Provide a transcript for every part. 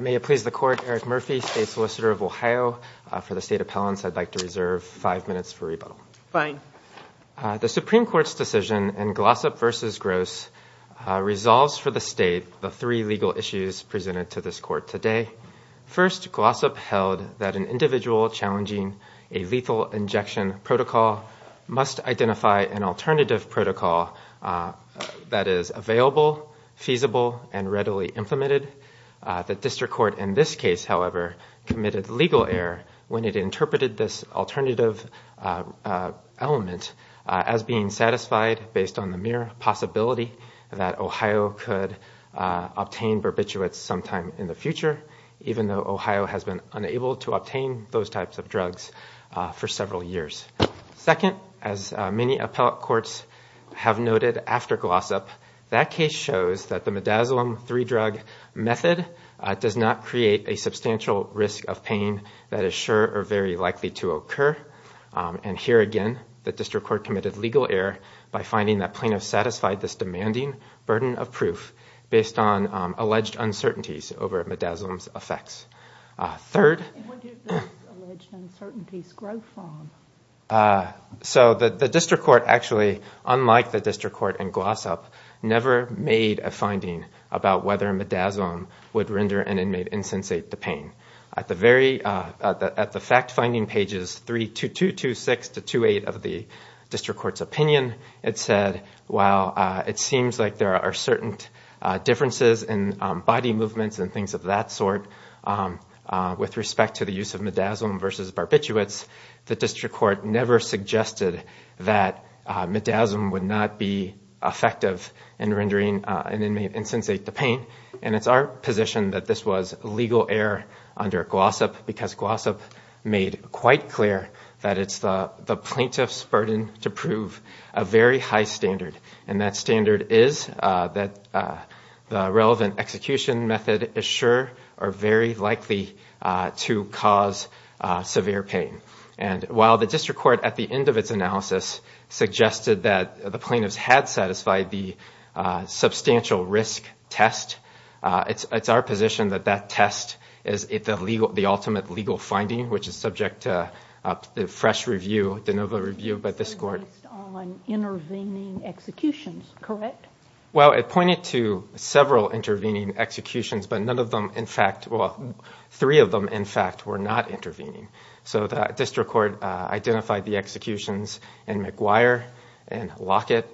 May it please the Court, Eric Murphy, State Solicitor of Ohio for the State Appellants. I'd like to reserve five minutes for rebuttal. Fine. The Supreme Court's decision in Glossop v. Gross resolves for the State the three legal issues presented to this Court today. First, Glossop held that an individual challenging a lethal injection protocol must identify an alternative protocol that is available, feasible, and readily implemented. The District Court in this case, however, committed legal error when it interpreted this alternative element as being satisfied based on the mere possibility that Ohio could obtain barbiturates sometime in the future, even though Ohio has been unable to obtain those types of drugs for several years. Second, as many appellate courts have noted after Glossop, that case shows that the midazolam three drug method does not create a substantial risk of pain that is sure or very likely to occur. And here again, the District Court committed legal error by finding that plaintiffs satisfied this demanding burden of proof based on alleged uncertainties over midazolam's effects. Third, so the District Court actually, unlike the District Court in Glossop, never made a finding about whether midazolam would render an inmate insensate the pain. At the fact-finding pages 32226-28 of the District Court's opinion, it said, while it seems like there are certain differences in body movements and things of that sort with respect to the use of midazolam versus barbiturates, the District Court never suggested that midazolam would not be effective in rendering an inmate insensate the pain. And it's our position that this was legal error under Glossop because Glossop made quite clear that it's the plaintiff's burden to prove a very high standard. And that standard is that the relevant execution method is sure or very likely to cause severe pain. And while the District Court, at the end of its analysis, suggested that the plaintiffs had satisfied the substantial risk test, it's our position that that test is the ultimate legal finding, which is subject to the fresh review, the novel review by this Court. Based on intervening executions, correct? Well, it pointed to several intervening executions, but none of them, in fact – well, three of them, in fact, were not intervening. So the District Court identified the executions in McGuire, in Lockett,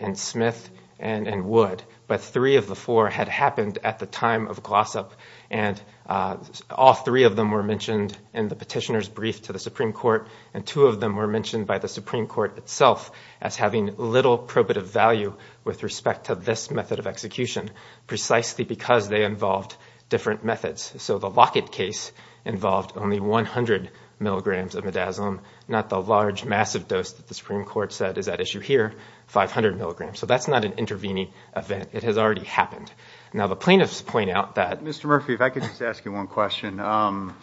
in Smith, and in Wood. But three of the four had happened at the time of Glossop, and all three of them were mentioned in the petitioner's brief to the Supreme Court, and two of them were mentioned by the Supreme Court itself as having little probative value with respect to this method of execution, precisely because they involved different methods. So the Lockett case involved only 100 milligrams of midazolam, not the large, massive dose that the Supreme Court said is at issue here, 500 milligrams. So that's not an intervening event. It has already happened. Now, the plaintiffs point out that – Mr. Murphy, if I could just ask you one question. I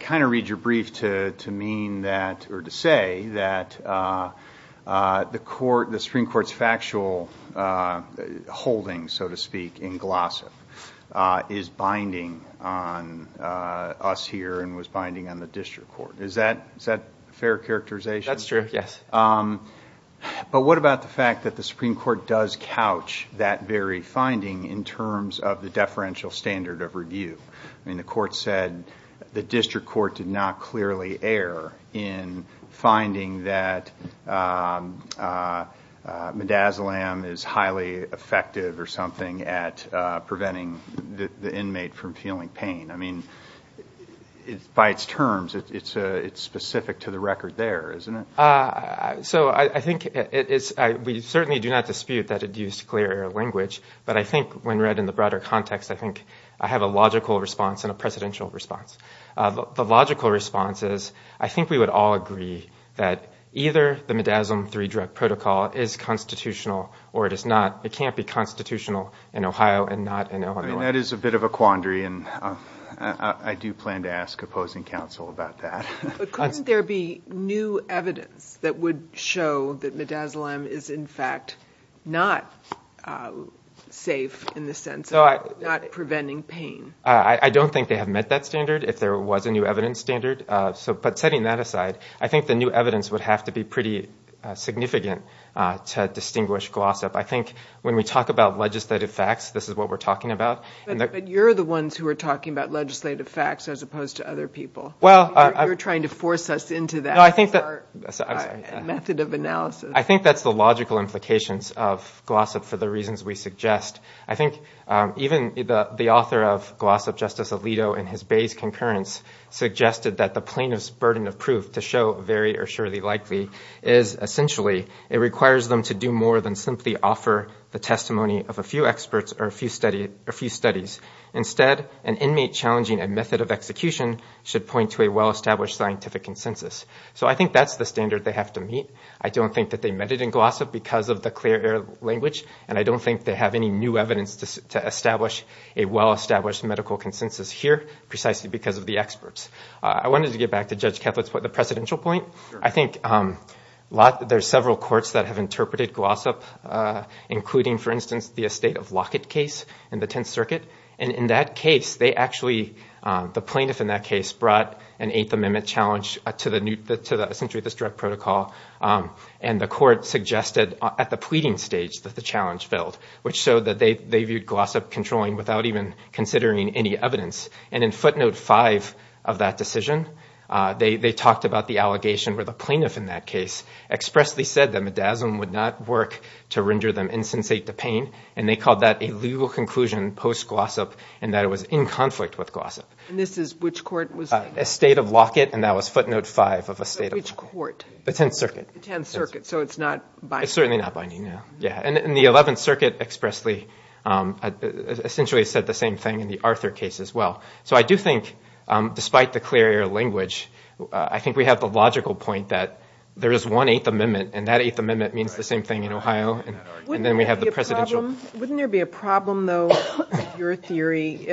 kind of read your brief to mean that – or to say that the Supreme Court's factual holding, so to speak, in Glossop is binding on us here and was binding on the District Court. Is that a fair characterization? That's true, yes. But what about the fact that the Supreme Court does couch that very finding in terms of the deferential standard of review? I mean, the court said the District Court did not clearly err in finding that midazolam is highly effective or something at preventing the inmate from feeling pain. I mean, by its terms, it's specific to the record there, isn't it? So I think it's – we certainly do not dispute that it used clear language. But I think when read in the broader context, I think I have a logical response and a precedential response. The logical response is I think we would all agree that either the midazolam three drug protocol is constitutional or it is not. It can't be constitutional in Ohio and not in Illinois. That is a bit of a quandary, and I do plan to ask opposing counsel about that. But couldn't there be new evidence that would show that midazolam is, in fact, not safe in the sense of not preventing pain? I don't think they have met that standard, if there was a new evidence standard. But setting that aside, I think the new evidence would have to be pretty significant to distinguish gloss up. I think when we talk about legislative facts, this is what we're talking about. But you're the ones who are talking about legislative facts as opposed to other people. You're trying to force us into that method of analysis. I think that's the logical implications of gloss up for the reasons we suggest. I think even the author of gloss up, Justice Alito, in his base concurrence, suggested that the plaintiff's burden of proof to show very or surely likely is essentially it requires them to do more than simply offer the testimony of a few experts or a few studies. Instead, an inmate challenging a method of execution should point to a well-established scientific consensus. So I think that's the standard they have to meet. I don't think that they met it in gloss up because of the clear air language, and I don't think they have any new evidence to establish a well-established medical consensus here precisely because of the experts. I wanted to get back to Judge Ketlet's point, the presidential point. I think there are several courts that have interpreted gloss up, including, for instance, the estate of Lockett case in the Tenth Circuit. And in that case, they actually, the plaintiff in that case, brought an Eighth Amendment challenge to essentially this direct protocol. And the court suggested at the pleading stage that the challenge build, which showed that they viewed gloss up controlling without even considering any evidence. And in footnote five of that decision, they talked about the allegation where the plaintiff in that case expressly said that midazolam would not work to render them insensate to pain, and they called that a legal conclusion post-gloss up and that it was in conflict with gloss up. And this is which court? Estate of Lockett, and that was footnote five of estate of Lockett. Which court? The Tenth Circuit. The Tenth Circuit, so it's not binding. It's certainly not binding, no. And the Eleventh Circuit expressly, essentially said the same thing in the Arthur case as well. So I do think, despite the clear air language, I think we have the logical point that there is one Eighth Amendment, and that Eighth Amendment means the same thing in Ohio, and then we have the presidential. Wouldn't there be a problem, though, in your theory,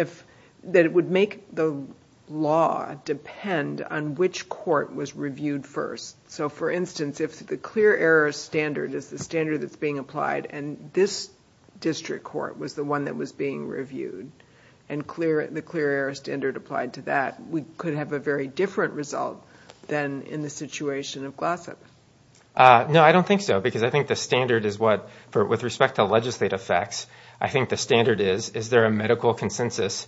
that it would make the law depend on which court was reviewed first? So, for instance, if the clear air standard is the standard that's being applied and this district court was the one that was being reviewed and the clear air standard applied to that, we could have a very different result than in the situation of gloss up. No, I don't think so, because I think the standard is what, with respect to legislative facts, I think the standard is, is there a medical consensus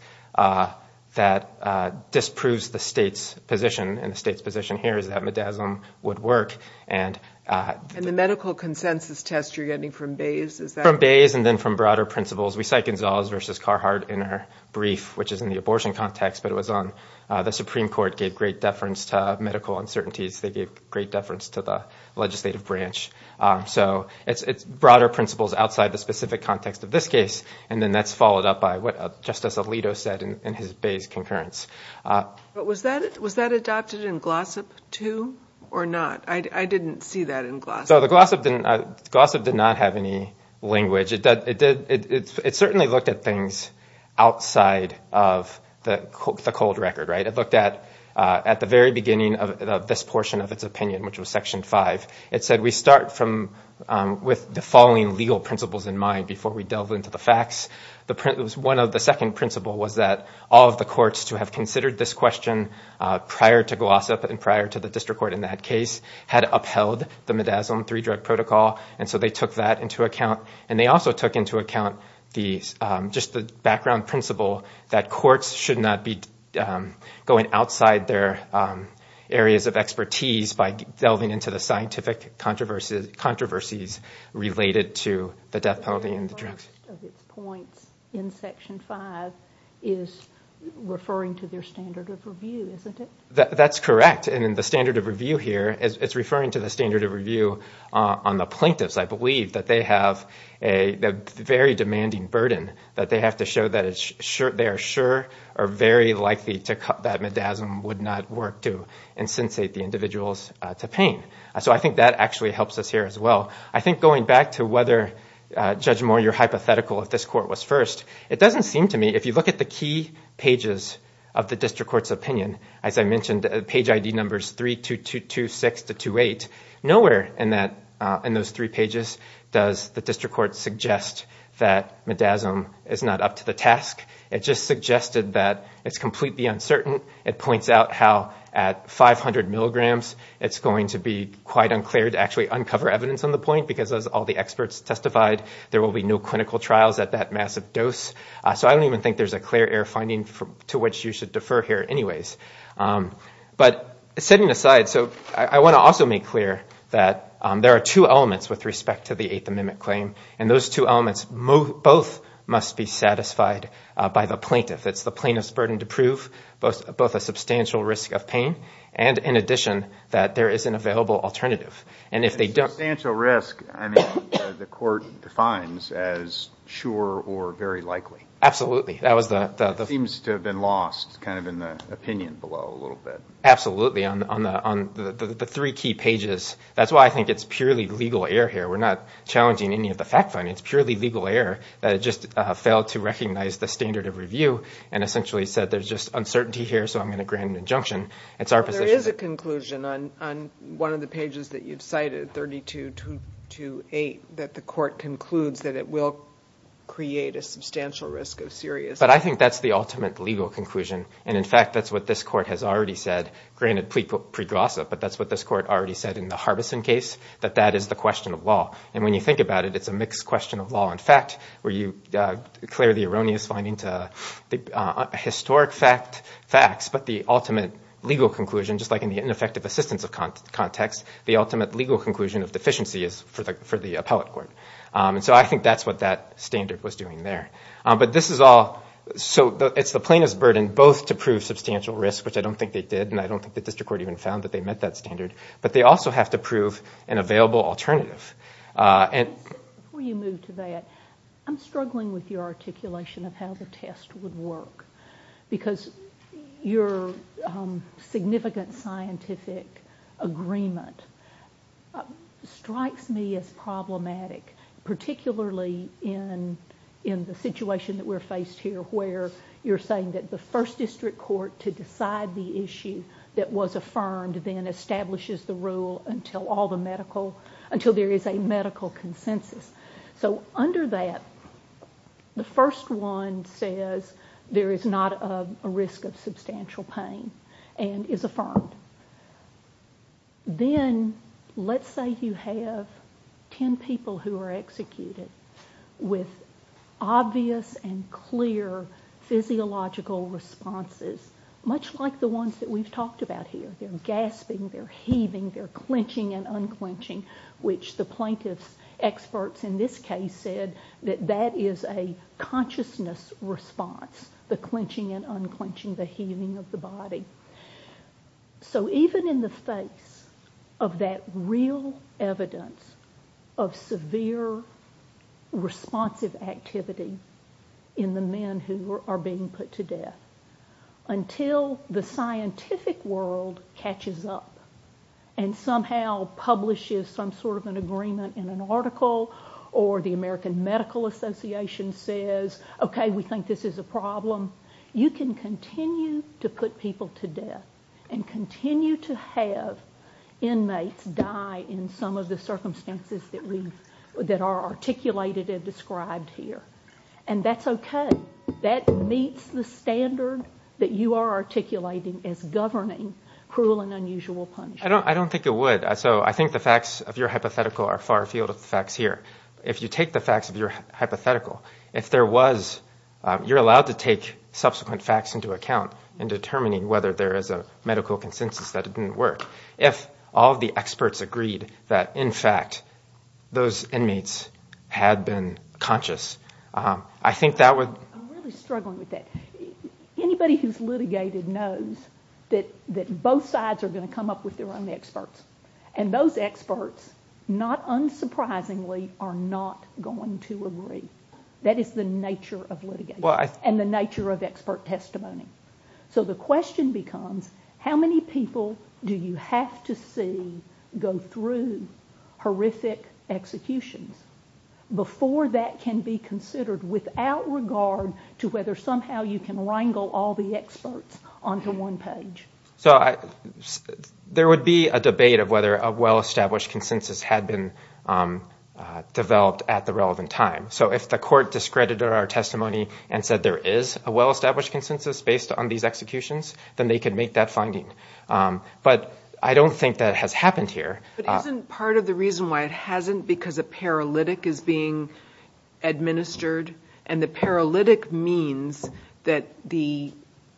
that disproves the state's position, and the state's position here is that MDASM would work. And the medical consensus test you're getting from Bayes is that one? From Bayes and then from broader principles. We cite Gonzales v. Carhart in her brief, which is in the abortion context, but it was on the Supreme Court gave great deference to medical uncertainties. They gave great deference to the legislative branch. So it's broader principles outside the specific context of this case, and then that's followed up by what Justice Alito said in his Bayes concurrence. But was that adopted in Glossop too or not? I didn't see that in Glossop. Glossop did not have any language. It certainly looked at things outside of the cold record, right? It looked at the very beginning of this portion of its opinion, which was Section 5. It said we start with the following legal principles in mind before we delve into the facts. One of the second principles was that all of the courts to have considered this question prior to Glossop and prior to the district court in that case had upheld the MDASM 3 drug protocol, and so they took that into account. And they also took into account just the background principle that courts should not be going outside their areas of expertise by delving into the scientific controversies related to the death penalty and the drugs. The point in Section 5 is referring to their standard of review, isn't it? That's correct. And in the standard of review here, it's referring to the standard of review on the plaintiffs, I believe, that they have a very demanding burden that they have to show that they are sure or very likely that MDASM would not work to insensate the individuals to pain. So I think that actually helps us here as well. I think going back to whether, Judge Moore, your hypothetical at this court was first, it doesn't seem to me, if you look at the key pages of the district court's opinion, as I mentioned, page ID numbers 32226 to 28, nowhere in those three pages does the district court suggest that MDASM is not up to the task. It just suggested that it's completely uncertain. It points out how at 500 milligrams it's going to be quite unclear to actually uncover evidence on the point because as all the experts testified, there will be no clinical trials at that massive dose. So I don't even think there's a clear air finding to which you should defer here anyways. But setting aside, so I want to also make clear that there are two elements with respect to the Eighth Amendment claim, and those two elements both must be satisfied by the plaintiff. It's the plaintiff's burden to prove both a substantial risk of pain and in addition that there is an available alternative. Substantial risk, the court defines as sure or very likely. Absolutely. That seems to have been lost kind of in the opinion below a little bit. Absolutely. On the three key pages, that's why I think it's purely legal air here. We're not challenging any of the facts. It's purely legal air that just failed to recognize the standard of review and essentially said there's just uncertainty here, so I'm going to grant an injunction. There is a conclusion on one of the pages that you've cited, 32-8, that the court concludes that it will create a substantial risk of serious pain. But I think that's the ultimate legal conclusion. And in fact, that's what this court has already said. Granted, pre-gossip, but that's what this court already said in the Harbison case, that that is the question of law. And when you think about it, it's a mixed question of law and fact where you declare the erroneous finding to historic facts, but the ultimate legal conclusion, just like in the ineffective assistance context, the ultimate legal conclusion of deficiency is for the appellate court. And so I think that's what that standard was doing there. But this is all, so it's the plaintiff's burden both to prove substantial risk, which I don't think they did, and I don't think the district court even found that they met that standard, but they also have to prove an available alternative. Before you move to that, I'm struggling with your articulation of how the test would work because your significant scientific agreement strikes me as problematic, particularly in the situation that we're faced here where you're saying that the first district court to decide the issue that was affirmed then establishes the rule until there is a medical consensus. So under that, the first one says there is not a risk of substantial pain and is affirmed. Then let's say you have ten people who are executed with obvious and clear physiological responses, much like the ones that we've talked about here. They're gasping, they're heaving, they're clenching and unclenching, which the plaintiff's experts in this case said that that is a consciousness response, the clenching and unclenching, the heaving of the body. So even in the face of that real evidence of severe responsive activity in the men who are being put to death, until the scientific world catches up and somehow publishes some sort of an agreement in an article or the American Medical Association says, okay, we think this is a problem, you can continue to put people to death and continue to have inmates die in some of the circumstances that are articulated and described here. And that's okay. That meets the standard that you are articulating as governing cruel and unusual punishment. I don't think it would. So I think the facts of your hypothetical are far afield of the facts here. If you take the facts of your hypothetical, if there was, you're allowed to take subsequent facts into account in determining whether there is a medical consensus that it didn't work. If all the experts agreed that, in fact, those inmates had been conscious, I think that would. I'm really struggling with that. Anybody who's litigated knows that both sides are going to come up with their own experts. And those experts, not unsurprisingly, are not going to agree. That is the nature of litigation and the nature of expert testimony. So the question becomes, how many people do you have to see go through horrific execution before that can be considered without regard to whether somehow you can wrangle all the experts onto one page? So there would be a debate of whether a well-established consensus had been developed at the relevant time. So if the court discredited our testimony and said there is a well-established consensus based on these executions, then they could make that finding. But I don't think that has happened here. But isn't part of the reason why it hasn't because a paralytic is being administered? And the paralytic means that the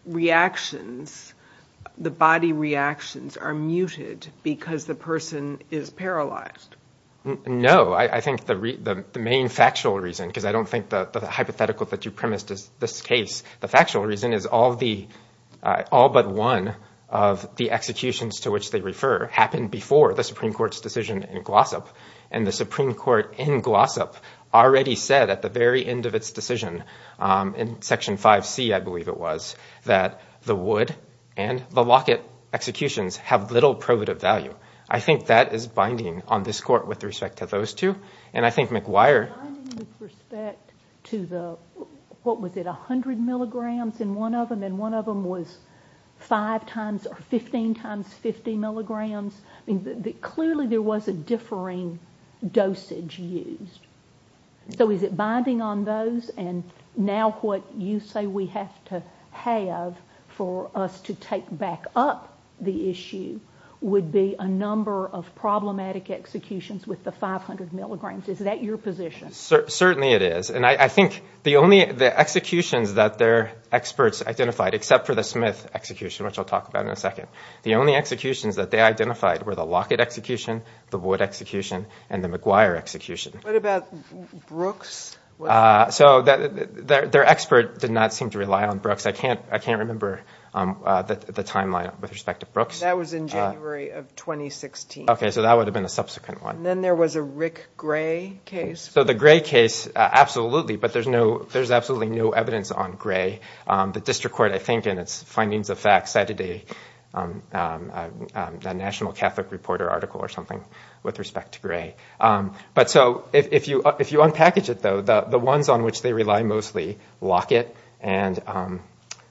reactions, the body reactions, are muted because the person is paralyzed. No, I think the main factual reason, because I don't think the hypothetical that you premised is this case, the factual reason is all but one of the executions to which they refer happened before the Supreme Court's decision in Glossop. And the Supreme Court in Glossop already said at the very end of its decision in Section 5C, I believe it was, that the Wood and the Lockett executions have little probative value. I think that is binding on this court with respect to those two. And I think McGuire... With respect to the, what was it, 100 milligrams in one of them, and one of them was 5 times or 15 times 50 milligrams, clearly there was a differing dosage used. So is it binding on those? And now what you say we have to have for us to take back up the issue would be a number of problematic executions with the 500 milligrams. Is that your position? Certainly it is. And I think the executions that their experts identified, except for the Smith execution, which I'll talk about in a second, the only executions that they identified were the Lockett execution, the Wood execution, and the McGuire execution. What about Brooks? So their expert did not seem to rely on Brooks. I can't remember the timeline with respect to Brooks. That was in January of 2016. Okay, so that would have been a subsequent one. And then there was a Rick Gray case. The district court, I think, in its findings of facts, cited a National Catholic Reporter article or something with respect to Gray. But so if you unpackage it, though, the ones on which they rely mostly, Lockett and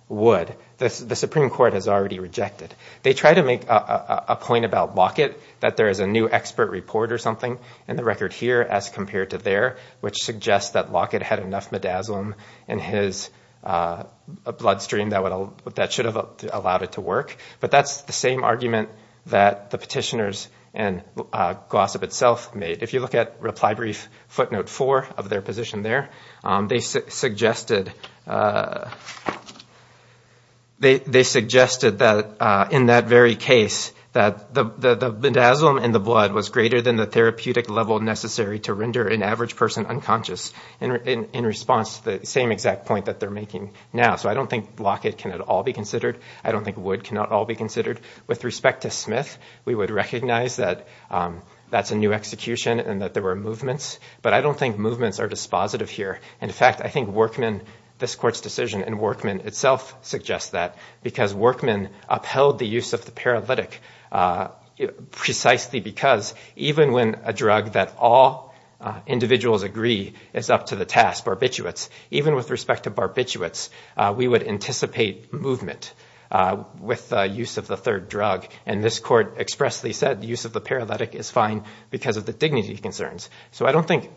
Wood, the Supreme Court has already rejected. They try to make a point about Lockett, that there is a new expert report or something in the record here which suggests that Lockett had enough midazolam in his bloodstream that should have allowed it to work. But that's the same argument that the petitioners and Gossip itself made. If you look at reply brief footnote four of their position there, they suggested that in that very case that the midazolam in the blood was greater than the therapeutic level necessary to render an average person unconscious in response to the same exact point that they're making now. So I don't think Lockett can at all be considered. I don't think Wood can at all be considered. With respect to Smith, we would recognize that that's a new execution and that there were movements. But I don't think movements are dispositive here. In fact, I think Workman, this court's decision in Workman itself suggests that because Workman upheld the use of the paralytic precisely because even when a drug that all individuals agree is up to the task, barbiturates, even with respect to barbiturates, we would anticipate movement with the use of the third drug. And this court expressly said the use of the paralytic is fine because of the dignity concerns. So I don't think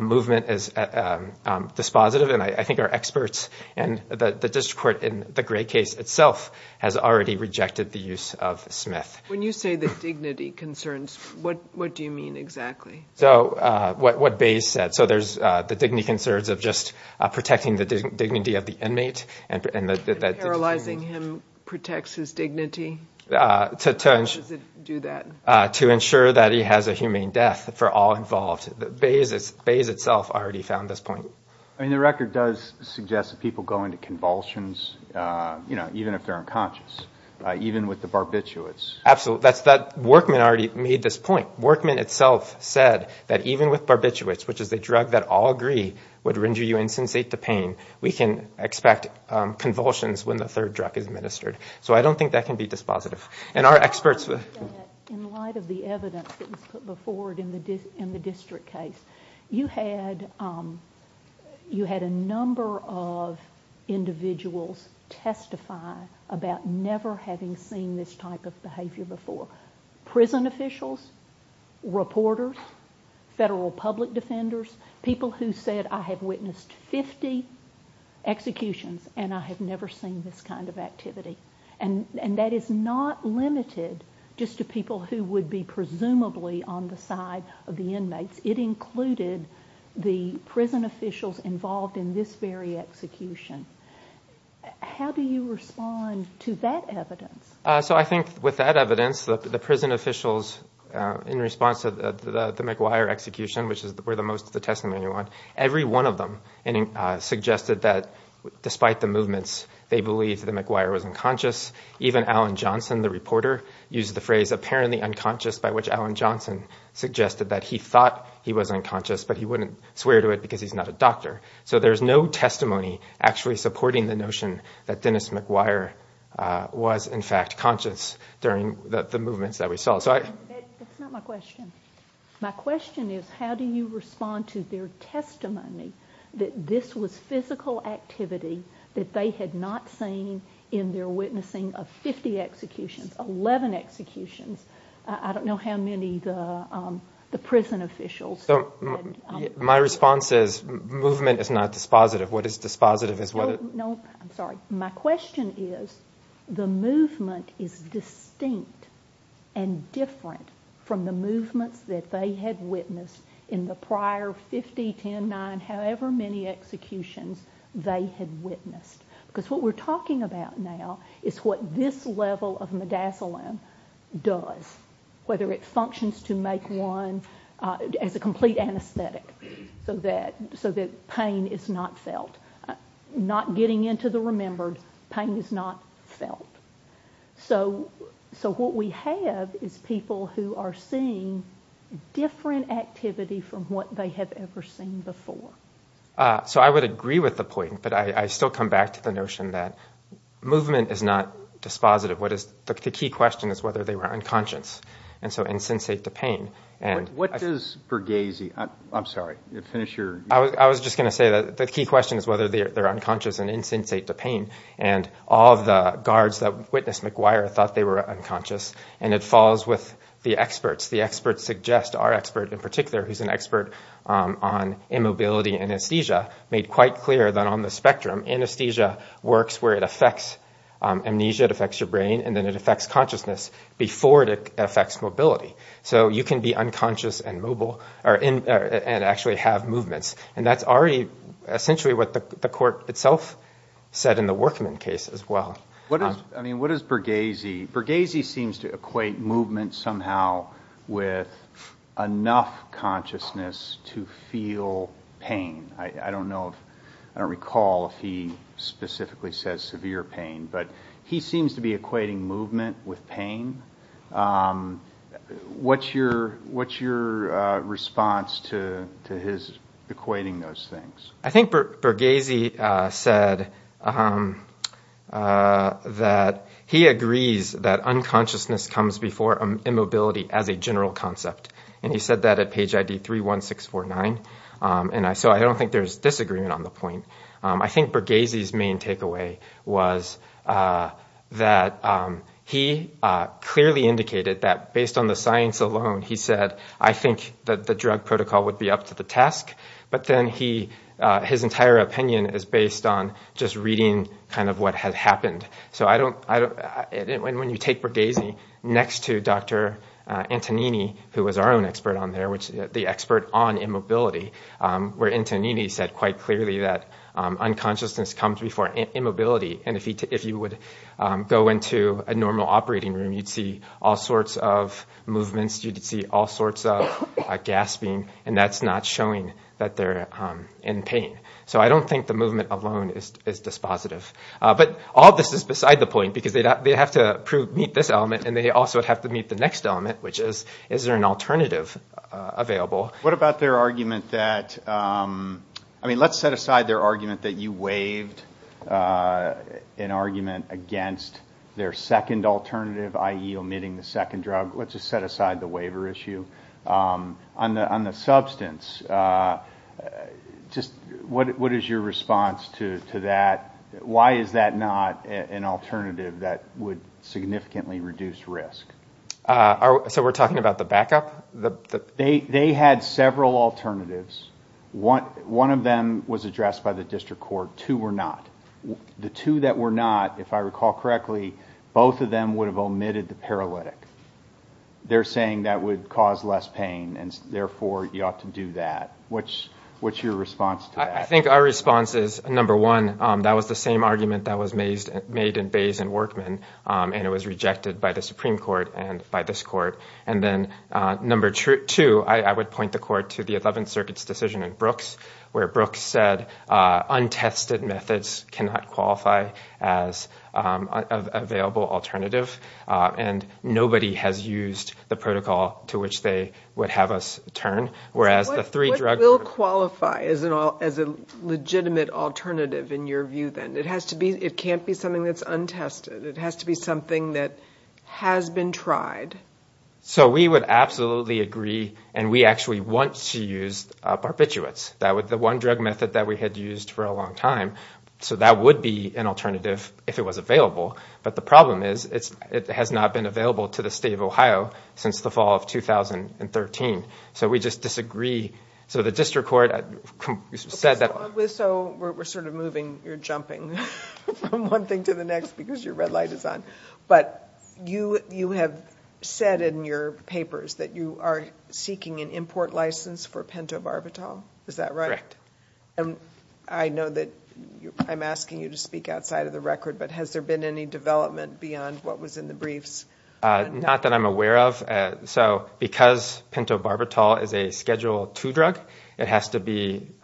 movement is dispositive. And I think our experts and the district court in the Gray case itself has already rejected the use of Smith. When you say the dignity concerns, what do you mean exactly? So what Bayes said. So there's the dignity concerns of just protecting the dignity of the inmate. Paralyzing him protects his dignity. How does it do that? To ensure that he has a humane death for all involved. Bayes itself already found this point. I mean, the record does suggest that people go into convulsions, you know, even if they're unconscious, even with the barbiturates. Absolutely. Workman already made this point. Workman itself said that even with barbiturates, which is a drug that all agree would render you insensate to pain, we can expect convulsions when the third drug is administered. So I don't think that can be dispositive. In light of the evidence that was put forward in the district case, you had a number of individuals testify about never having seen this type of behavior before. Prison officials, reporters, federal public defenders, people who said, I have witnessed 50 executions and I have never seen this kind of activity. And that is not limited just to people who would be presumably on the side of the inmates. It included the prison officials involved in this very execution. How do you respond to that evidence? So I think with that evidence, the prison officials, in response to the McGuire execution, which were the most of the testimony ones, every one of them suggested that despite the movements, they believed that McGuire was unconscious. Even Alan Johnson, the reporter, used the phrase apparently unconscious, by which Alan Johnson suggested that he thought he was unconscious, but he wouldn't swear to it because he's not a doctor. So there's no testimony actually supporting the notion that Dennis McGuire was, in fact, conscious during the movements that we saw. That's not my question. My question is how do you respond to their testimony that this was physical activity that they had not seen in their witnessing of 50 executions, 11 executions? I don't know how many the prison officials. So my response is movement is not dispositive. What is dispositive? No, I'm sorry. My question is the movement is distinct and different from the movements that they had witnessed in the prior 50, 10, 9, however many executions they had witnessed. Because what we're talking about now is what this level of megaslum does, whether it functions to make one as a complete anesthetic so that pain is not felt, not getting into the remembered, pain is not felt. So what we have is people who are seeing different activity from what they have ever seen before. So I would agree with the point, but I still come back to the notion that movement is not dispositive. The key question is whether they were unconscious, and so insensate the pain. What does Bergesi, I'm sorry, finish your. I was just going to say that the key question is whether they're unconscious and insensate the pain, and all of the guards that witnessed McGuire thought they were unconscious, and it falls with the experts. The experts suggest our expert in particular, who's an expert on immobility anesthesia, made quite clear that on the spectrum, anesthesia works where it affects amnesia, it affects your brain, and then it affects consciousness before it affects mobility. So you can be unconscious and actually have movements, and that's already essentially what the court itself said in the Workman case as well. What does Bergesi, Bergesi seems to equate movement somehow with enough consciousness to feel pain. I don't recall if he specifically says severe pain, but he seems to be equating movement with pain. What's your response to his equating those things? I think Bergesi said that he agrees that unconsciousness comes before immobility as a general concept, and he said that at page ID 31649, and so I don't think there's disagreement on the point. I think Bergesi's main takeaway was that he clearly indicated that based on the science alone, he said, I think that the drug protocol would be up to the task, but then his entire opinion is based on just reading kind of what had happened. So when you take Bergesi next to Dr. Antonini, who was our own expert on there, where Antonini said quite clearly that unconsciousness comes before immobility, and if you would go into a normal operating room, you'd see all sorts of movements, you'd see all sorts of gasping, and that's not showing that they're in pain. So I don't think the movement alone is dispositive. But all this is beside the point, because they have to meet this element, and they also have to meet the next element, which is, is there an alternative available? What about their argument that, I mean, let's set aside their argument that you waived an argument against their second alternative, i.e. omitting the second drug. Let's just set aside the waiver issue. On the substance, just what is your response to that? Why is that not an alternative that would significantly reduce risk? So we're talking about the backup? They had several alternatives. One of them was addressed by the district court. Two were not. The two that were not, if I recall correctly, both of them would have omitted the paralytic. They're saying that would cause less pain, and therefore you ought to do that. What's your response to that? I think our response is, number one, that was the same argument that was made in Bays and Workman, and it was rejected by the Supreme Court and by this court. And then number two, I would point the court to the Eleventh Circuit's decision in Brooks, where Brooks said untested methods cannot qualify as an available alternative, and nobody has used the protocol to which they would have us turn, whereas the three drugs were. What will qualify as a legitimate alternative in your view, then? It can't be something that's untested. It has to be something that has been tried. So we would absolutely agree, and we actually want to use barbiturates. That was the one drug method that we had used for a long time, so that would be an alternative if it was available. But the problem is it has not been available to the state of Ohio since the fall of 2013. So we just disagree. So the district court said that – So we're sort of moving or jumping from one thing to the next because your red light is on. But you have said in your papers that you are seeking an import license for pentobarbital. Is that right? Correct. And I know that I'm asking you to speak outside of the record, but has there been any development beyond what was in the briefs? Not that I'm aware of. So because pentobarbital is a Schedule II drug, the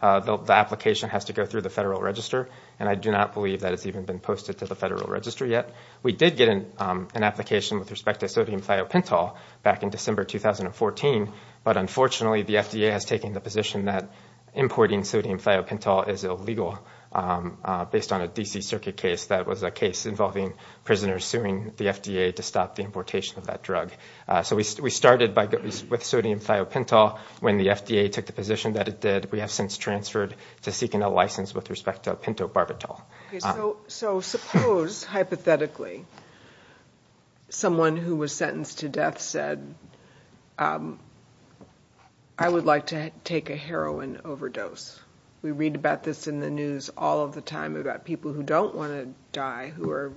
application has to go through the Federal Register, and I do not believe that it's even been posted to the Federal Register yet. We did get an application with respect to sodium thiopentol back in December 2014, but unfortunately the FDA has taken the position that importing sodium thiopentol is illegal. Based on a D.C. Circuit case, that was a case involving prisoners suing the FDA to stop the importation of that drug. So we started with sodium thiopentol. When the FDA took the position that it did, we have since transferred to seeking a license with respect to pentobarbital. So suppose, hypothetically, someone who was sentenced to death said, I would like to take a heroin overdose. We read about this in the news all of the time about people who don't want to die who are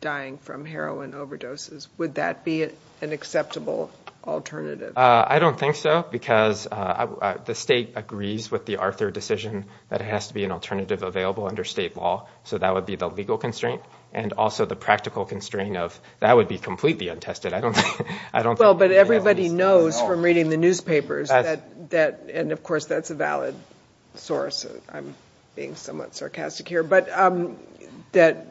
dying from heroin overdoses. Would that be an acceptable alternative? I don't think so because the state agrees with the Arthur decision that it has to be an alternative available under state law, so that would be the legal constraint and also the practical constraint of that would be completely untested. Well, but everybody knows from reading the newspapers, and of course that's a valid source, I'm being somewhat sarcastic here, but that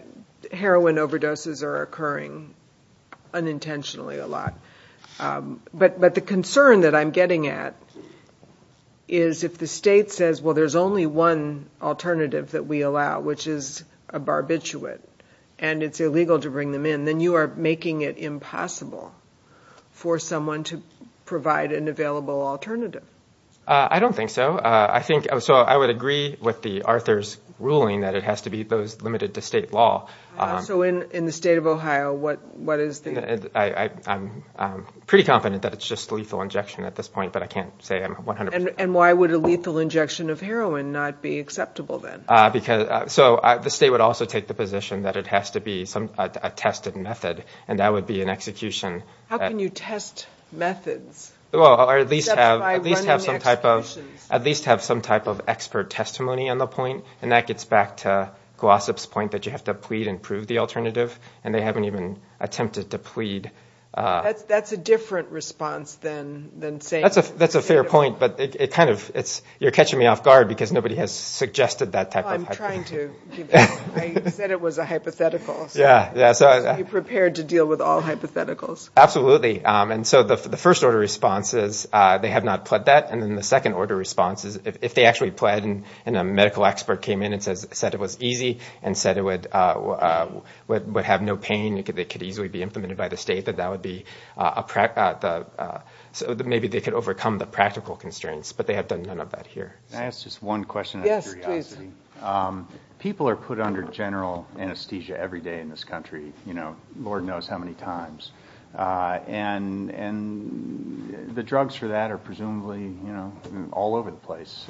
heroin overdoses are occurring unintentionally a lot. But the concern that I'm getting at is if the state says, well, there's only one alternative that we allow, which is a barbiturate, and it's illegal to bring them in, then you are making it impossible for someone to provide an available alternative. I don't think so. So I would agree with the Arthur's ruling that it has to be limited to state law. So in the state of Ohio, what is the issue? I'm pretty confident that it's just lethal injection at this point, but I can't say I'm 100% sure. And why would a lethal injection of heroin not be acceptable then? So the state would also take the position that it has to be a tested method, and that would be an execution. How can you test methods? Well, or at least have some type of expert testimony on the point, and that gets back to Glossop's point that you have to plead and prove the alternative, and they haven't even attempted to plead. That's a different response than saying- That's a fair point, but you're catching me off guard because nobody has suggested that type of- I'm trying to. I said it was a hypothetical. Be prepared to deal with all hypotheticals. Absolutely. And so the first order of response is they have not pled that, and then the second order of response is if they actually pled, and a medical expert came in and said it was easy and said it would have no pain, it could easily be implemented by the state, that that would be a- so maybe they could overcome the practical constraints, but they have done none of that here. Can I ask just one question out of curiosity? People are put under general anesthesia every day in this country, you know, Lord knows how many times, and the drugs for that are presumably, you know, all over the place.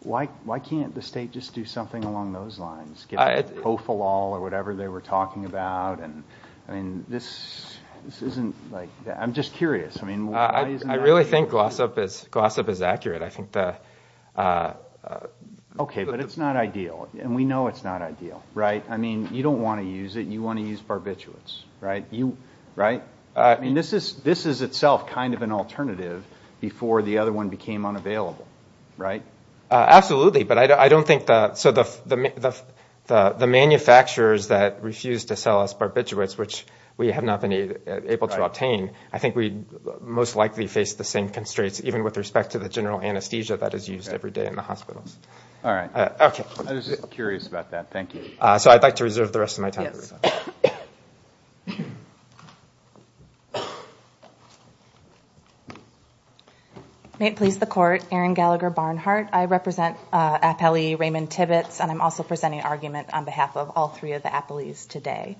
Why can't the state just do something along those lines? Get the profilol or whatever they were talking about, and this isn't like-I'm just curious. I really think Glossop is accurate. I think the- Okay, but it's not ideal, and we know it's not ideal, right? I mean, you don't want to use it. You want to use barbiturates, right? I mean, this is itself kind of an alternative before the other one became unavailable, right? Absolutely, but I don't think-so the manufacturers that refuse to sell us barbiturates, which we have not been able to obtain, I think we most likely face the same constraints, even with respect to the general anesthesia that is used every day in the hospitals. All right. I was curious about that. Thank you. So I'd like to reserve the rest of my time. May it please the Court, Aaron Gallagher Barnhart. I represent Appellee Raymond Tibbetts, and I'm also presenting argument on behalf of all three of the appellees today.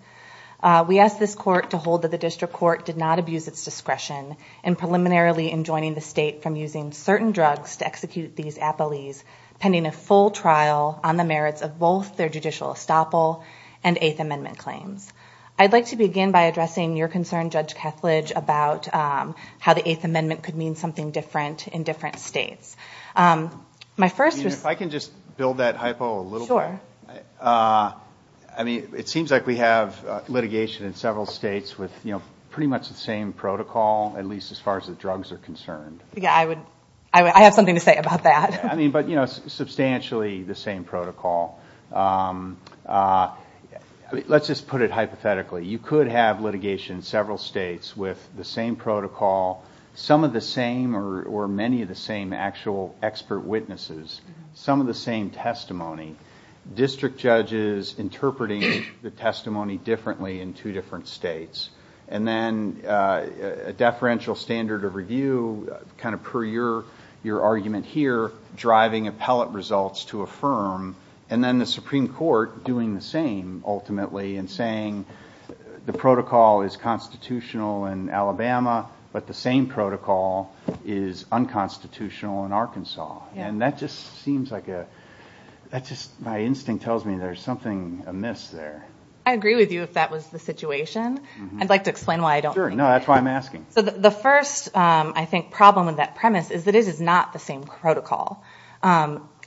We ask this Court to hold that the District Court did not abuse its discretion in preliminarily enjoining the state from using certain drugs to execute these appellees, pending a full trial on the merits of both their judicial estoppel and Eighth Amendment claims. I'd like to begin by addressing your concern, Judge Kesslidge, about how the Eighth Amendment could mean something different in different states. If I can just build that hypo a little bit. Sure. I mean, it seems like we have litigation in several states with pretty much the same protocol, at least as far as the drugs are concerned. Yeah, I have something to say about that. I mean, but, you know, substantially the same protocol. Let's just put it hypothetically. You could have litigation in several states with the same protocol, some of the same or many of the same actual expert witnesses, some of the same testimony, district judges interpreting the testimony differently in two different states, and then a deferential standard of review, kind of per your argument here, driving appellate results to affirm, and then the Supreme Court doing the same ultimately and saying the protocol is constitutional in Alabama, but the same protocol is unconstitutional in Arkansas. And that just seems like a, that just, my instinct tells me there's something amiss there. I agree with you if that was the situation. I'd like to explain why I don't think that. Sure, no, that's why I'm asking. So the first, I think, problem of that premise is that it is not the same protocol.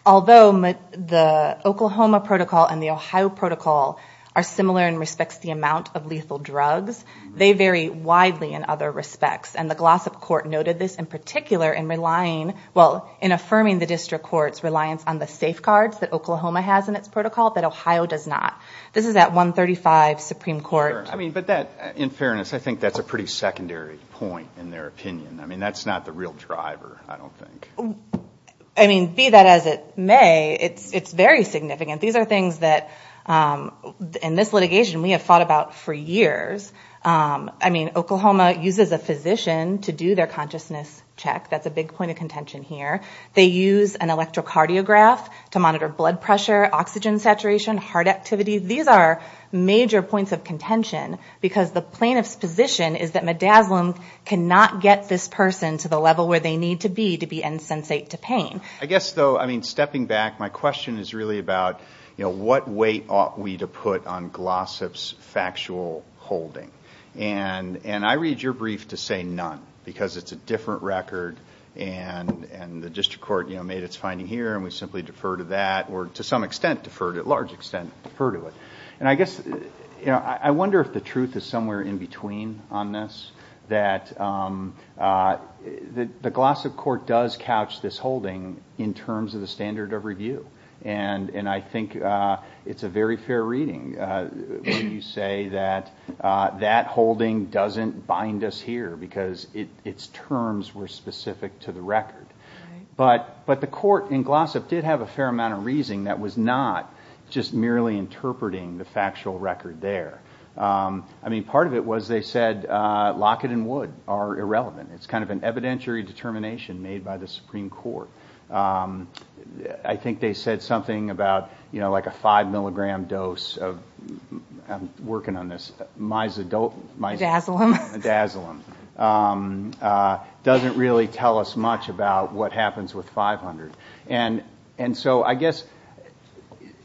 Although the Oklahoma protocol and the Ohio protocol are similar in respects to the amount of lethal drugs, they vary widely in other respects, and the Glossip Court noted this in particular in relying, well, in affirming the district court's reliance on the safeguards that Oklahoma has in its protocol that Ohio does not. This is that 135 Supreme Court. Sure, I mean, but that, in fairness, I think that's a pretty secondary point in their opinion. I mean, that's not the real driver, I don't think. I mean, be that as it may, it's very significant. These are things that in this litigation we have thought about for years. I mean, Oklahoma uses a physician to do their consciousness check. That's a big point of contention here. They use an electrocardiograph to monitor blood pressure, oxygen saturation, heart activity. These are major points of contention because the plaintiff's position is that midazolam cannot get this person to the level where they need to be to be insensate to pain. I guess, though, I mean, stepping back, my question is really about, you know, what weight ought we to put on Glossip's factual holding? And I read your brief to say none because it's a different record and the district court made its finding here and we simply defer to that or to some extent defer to it, large extent defer to it. And I guess, you know, I wonder if the truth is somewhere in between on this, that the Glossip court does couch this holding in terms of the standard of review. And I think it's a very fair reading when you say that that holding doesn't bind us here because its terms were specific to the record. But the court in Glossip did have a fair amount of reasoning that was not just merely interpreting the factual record there. I mean, part of it was they said Lockett and Wood are irrelevant. It's kind of an evidentiary determination made by the Supreme Court. I think they said something about, you know, like a five milligram dose of, I'm working on this, myazolam doesn't really tell us much about what happens with 500. And so I guess,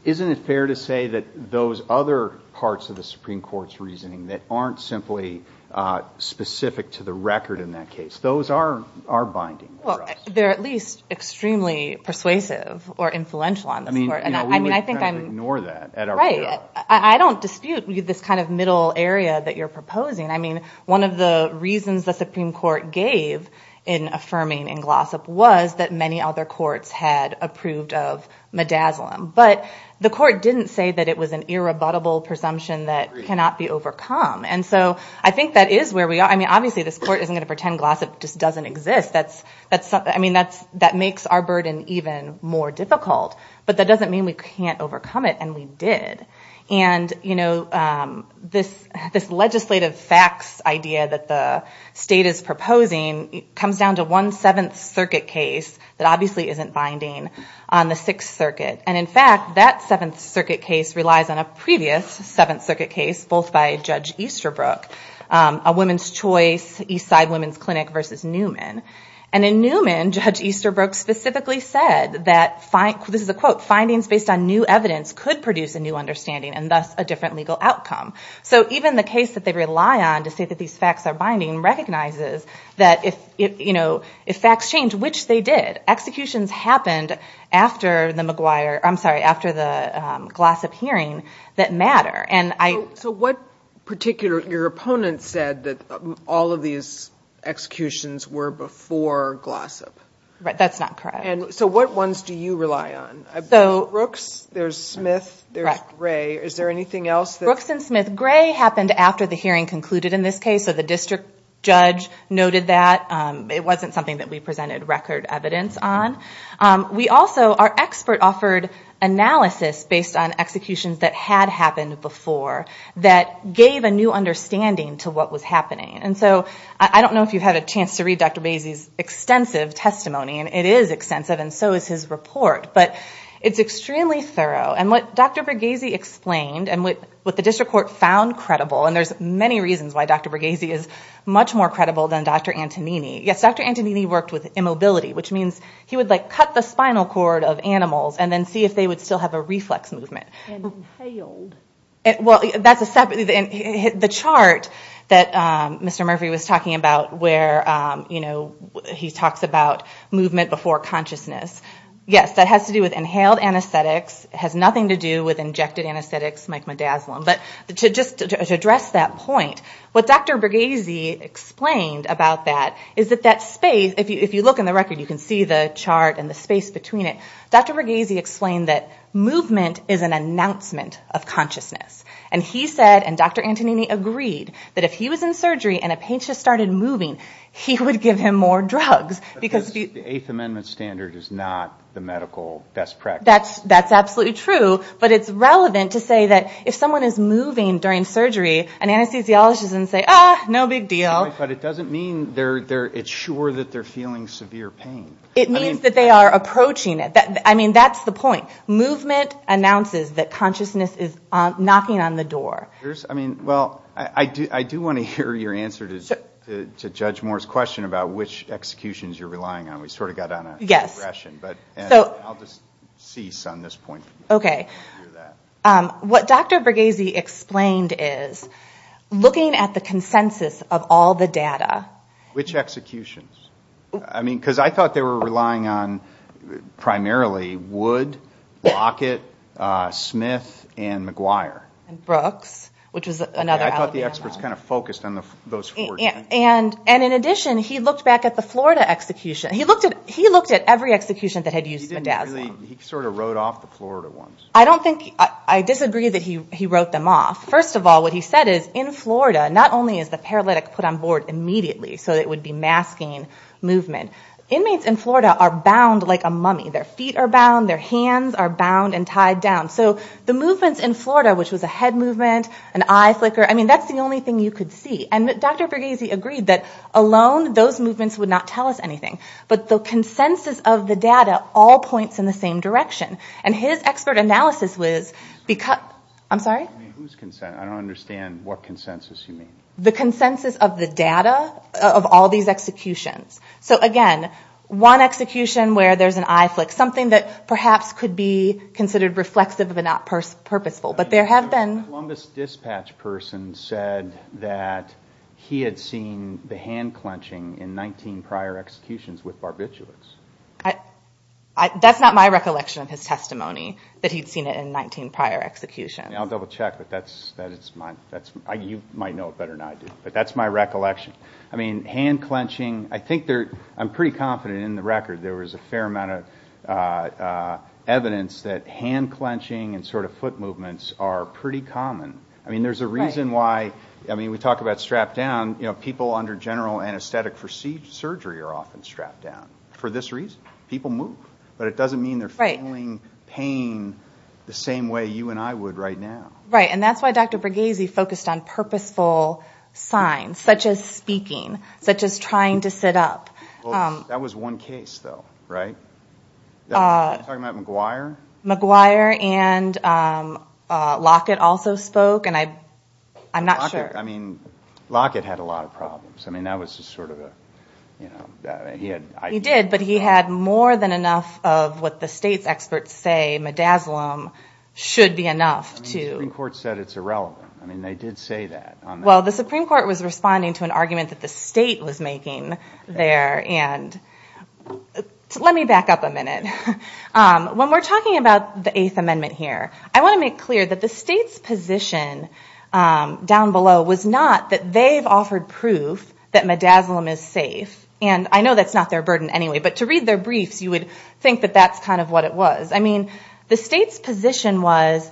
isn't it fair to say that those other parts of the Supreme Court's reasoning that aren't simply specific to the record in that case, those are binding for us. Well, they're at least extremely persuasive or influential on the court. I mean, we would kind of ignore that. Right. I don't dispute this kind of middle area that you're proposing. I mean, one of the reasons the Supreme Court gave in affirming in Glossip was that many other courts had approved of midazolam. But the court didn't say that it was an irrebuttable presumption that cannot be overcome. And so I think that is where we are. I mean, obviously this court isn't going to pretend Glossip just doesn't exist. I mean, that makes our burden even more difficult. But that doesn't mean we can't overcome it, and we did. And, you know, this legislative facts idea that the state is proposing comes down to one Seventh Circuit case that obviously isn't binding on the Sixth Circuit. And, in fact, that Seventh Circuit case relies on a previous Seventh Circuit case both by Judge Easterbrook, a women's choice, Eastside Women's Clinic versus Newman. And in Newman, Judge Easterbrook specifically said that, this is a quote, findings based on new evidence could produce a new understanding and thus a different legal outcome. So even the case that they rely on to say that these facts are binding recognizes that if facts change, which they did, executions happened after the Glossip hearing that matter. So what particular, your opponent said that all of these executions were before Glossip. Right, that's not correct. And so what ones do you rely on? Brooks, there's Smith, there's Gray. Is there anything else? Brooks and Smith. Gray happened after the hearing concluded in this case, so the district judge noted that. It wasn't something that we presented record evidence on. We also, our expert offered analysis based on executions that had happened before that gave a new understanding to what was happening. And so I don't know if you've had a chance to read Dr. Bregezi's extensive testimony, and it is extensive and so is his report, but it's extremely thorough. And what Dr. Bregezi explained and what the district court found credible, and there's many reasons why Dr. Bregezi is much more credible than Dr. Antonini. Yes, Dr. Antonini worked with immobility, which means he would, like, cut the spinal cord of animals and then see if they would still have a reflex movement. Inhaled. Well, that's a separate, the chart that Mr. Murphy was talking about where, you know, he talks about movement before consciousness. Yes, that has to do with inhaled anesthetics. It has nothing to do with injected anesthetics like midazolam. But to just address that point, what Dr. Bregezi explained about that is that that space, if you look in the record, you can see the chart and the space between it. Dr. Bregezi explained that movement is an announcement of consciousness. And he said, and Dr. Antonini agreed, that if he was in surgery and a patient started moving, he would give him more drugs. The Eighth Amendment standard is not the medical best practice. That's absolutely true. But it's relevant to say that if someone is moving during surgery, an anesthesiologist can say, ah, no big deal. But it doesn't mean it's sure that they're feeling severe pain. It means that they are approaching it. I mean, that's the point. Movement announces that consciousness is knocking on the door. I mean, well, I do want to hear your answer to Judge Moore's question about which executions you're relying on. We sort of got on a regression, but I'll just cease on this point. Okay. What Dr. Bregezi explained is looking at the consensus of all the data. Which executions? I mean, because I thought they were relying on primarily Wood, Lockett, Smith, and McGuire. And Brooks, which is another outlier. I thought the experts kind of focused on those four. And in addition, he looks back at the Florida execution. He looked at every execution that had used a desk. He sort of wrote off the Florida ones. I disagree that he wrote them off. First of all, what he said is in Florida, not only is the paralytic put on board immediately so it would be masking movement. Inmates in Florida are bound like a mummy. Their feet are bound. Their hands are bound and tied down. So the movements in Florida, which was a head movement, an eye flicker, I mean, that's the only thing you could see. And Dr. Bregezi agreed that alone those movements would not tell us anything. But the consensus of the data all points in the same direction. And his expert analysis was because – I'm sorry? Whose consensus? I don't understand what consensus you mean. The consensus of the data of all these executions. So, again, one execution where there's an eye flick, something that perhaps could be considered reflexive but not purposeful. The Columbus dispatch person said that he had seen the hand clenching in 19 prior executions with barbiturates. That's not my recollection of his testimony, that he'd seen it in 19 prior executions. I'll double check. You might know it better than I do. But that's my recollection. I mean, hand clenching, I'm pretty confident in the record there was a fair amount of evidence that hand clenching and sort of foot movements are pretty common. I mean, there's a reason why – I mean, we talk about strapped down. You know, people under general anesthetic procedure are often strapped down for this reason. People move. But it doesn't mean they're feeling pain the same way you and I would right now. Right, and that's why Dr. Bregezi focused on purposeful signs such as speaking, such as trying to sit up. That was one case, though, right? Are you talking about McGuire? McGuire and Lockett also spoke, and I'm not sure. Lockett. I mean, Lockett had a lot of problems. I mean, that was just sort of a – you know, he had – He did, but he had more than enough of what the state experts say midazolam should be enough to – I mean, the Supreme Court said it's irrelevant. I mean, they did say that. Well, the Supreme Court was responding to an argument that the state was making there, and let me back up a minute. When we're talking about the Eighth Amendment here, I want to make clear that the state's position down below was not that they've offered proof that midazolam is safe. And I know that's not their burden anyway, but to read their briefs, you would think that that's kind of what it was. I mean, the state's position was,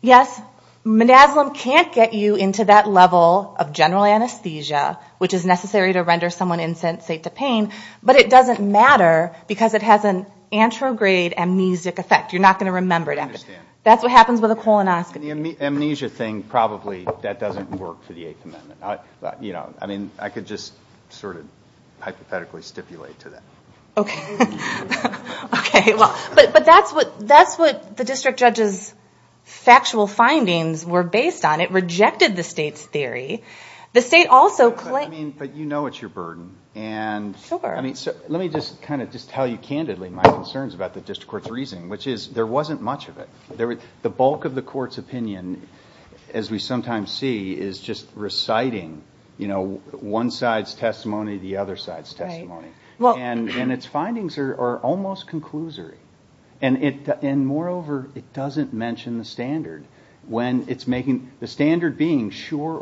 yes, midazolam can't get you into that level of general anesthesia, which is necessary to render someone insensate to pain, but it doesn't matter because it has an anterograde amnesic effect. You're not going to remember it. I understand. That's what happens with a colonoscopy. The amnesia thing, probably that doesn't work for the Eighth Amendment. You know, I mean, I could just sort of hypothetically stipulate to that. Okay. But that's what the district judge's factual findings were based on. It rejected the state's theory. The state also – But you know it's your burden. And let me just kind of just tell you candidly my concerns about the district court's reasoning, which is there wasn't much of it. The bulk of the court's opinion, as we sometimes see, is just reciting, you know, one side's testimony, the other side's testimony. And its findings are almost conclusory. And moreover, it doesn't mention the standard when it's making – sure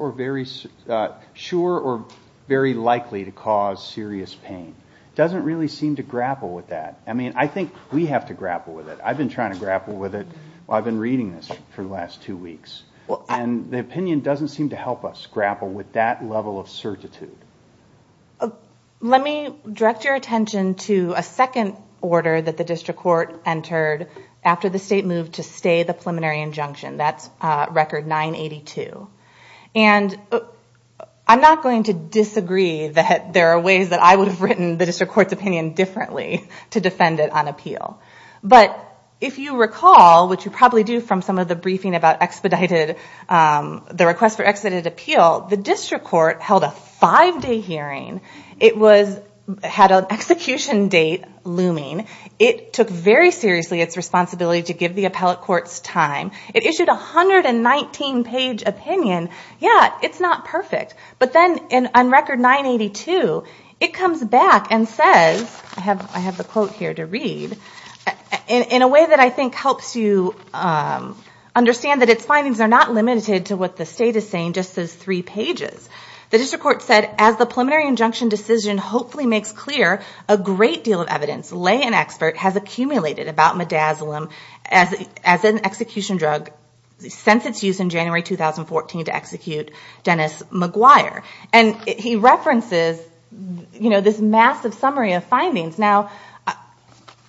or very likely to cause serious pain. It doesn't really seem to grapple with that. I mean, I think we have to grapple with it. I've been trying to grapple with it while I've been reading this for the last two weeks. And the opinion doesn't seem to help us grapple with that level of certitude. Let me direct your attention to a second order that the district court entered after the state moved to stay the preliminary injunction. That's Record 982. And I'm not going to disagree that there are ways that I would have written the district court's opinion differently to defend it on appeal. But if you recall, which you probably do from some of the briefing about expedited – the request for expedited appeal, the district court held a five-day hearing. It had an execution date looming. It took very seriously its responsibility to give the appellate court time. It issued a 119-page opinion. Yeah, it's not perfect. But then on Record 982, it comes back and says – I have the quote here to read – in a way that I think helps you understand that its findings are not limited to what the state is saying, just those three pages. The district court said, as the preliminary injunction decision hopefully makes clear, a great deal of evidence lay in expert has accumulated about midazolam as an execution drug since its use in January 2014 to execute Dennis McGuire. And he references, you know, this massive summary of findings. Now,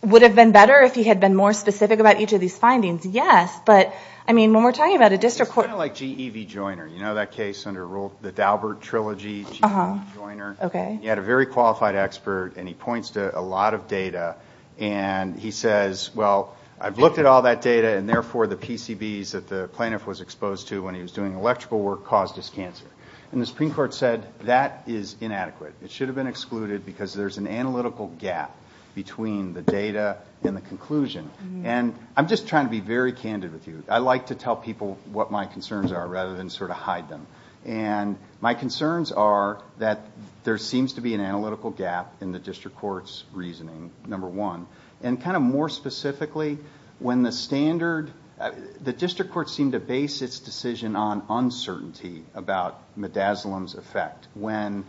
would it have been better if he had been more specific about each of these findings? Yes. But, I mean, when we're talking about a district court – It's kind of like G.E.V. Joyner. You know that case under the Daubert Trilogy, G.E.V. Joyner? Okay. And he had a very qualified expert, and he points to a lot of data. And he says, well, I've looked at all that data, and therefore the PCBs that the plaintiff was exposed to when he was doing electrical work caused his cancer. And the Supreme Court said that is inadequate. It should have been excluded because there's an analytical gap between the data and the conclusion. And I'm just trying to be very candid with you. I like to tell people what my concerns are rather than sort of hide them. And my concerns are that there seems to be an analytical gap in the district court's reasoning, number one. And kind of more specifically, when the standard – the district court seemed to base its decision on uncertainty about midazolam's effect. When,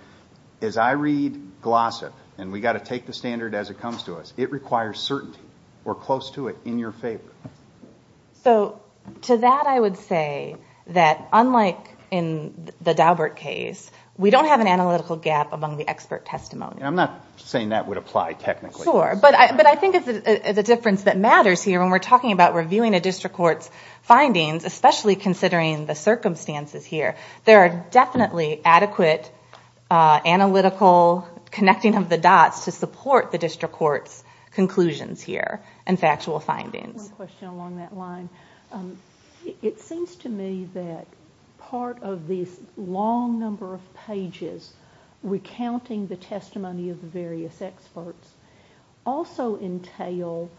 as I read Glossip, and we've got to take the standard as it comes to us, it requires certainty. We're close to it. In your favor. So to that I would say that unlike in the Daubert case, we don't have an analytical gap among the expert testimony. I'm not saying that would apply technically. Sure. But I think it's the difference that matters here when we're talking about reviewing a district court's findings, especially considering the circumstances here. There are definitely adequate analytical connecting of the dots to support the district court's conclusions here and factual findings. One question along that line. It seems to me that part of the long number of pages recounting the testimony of various experts also entail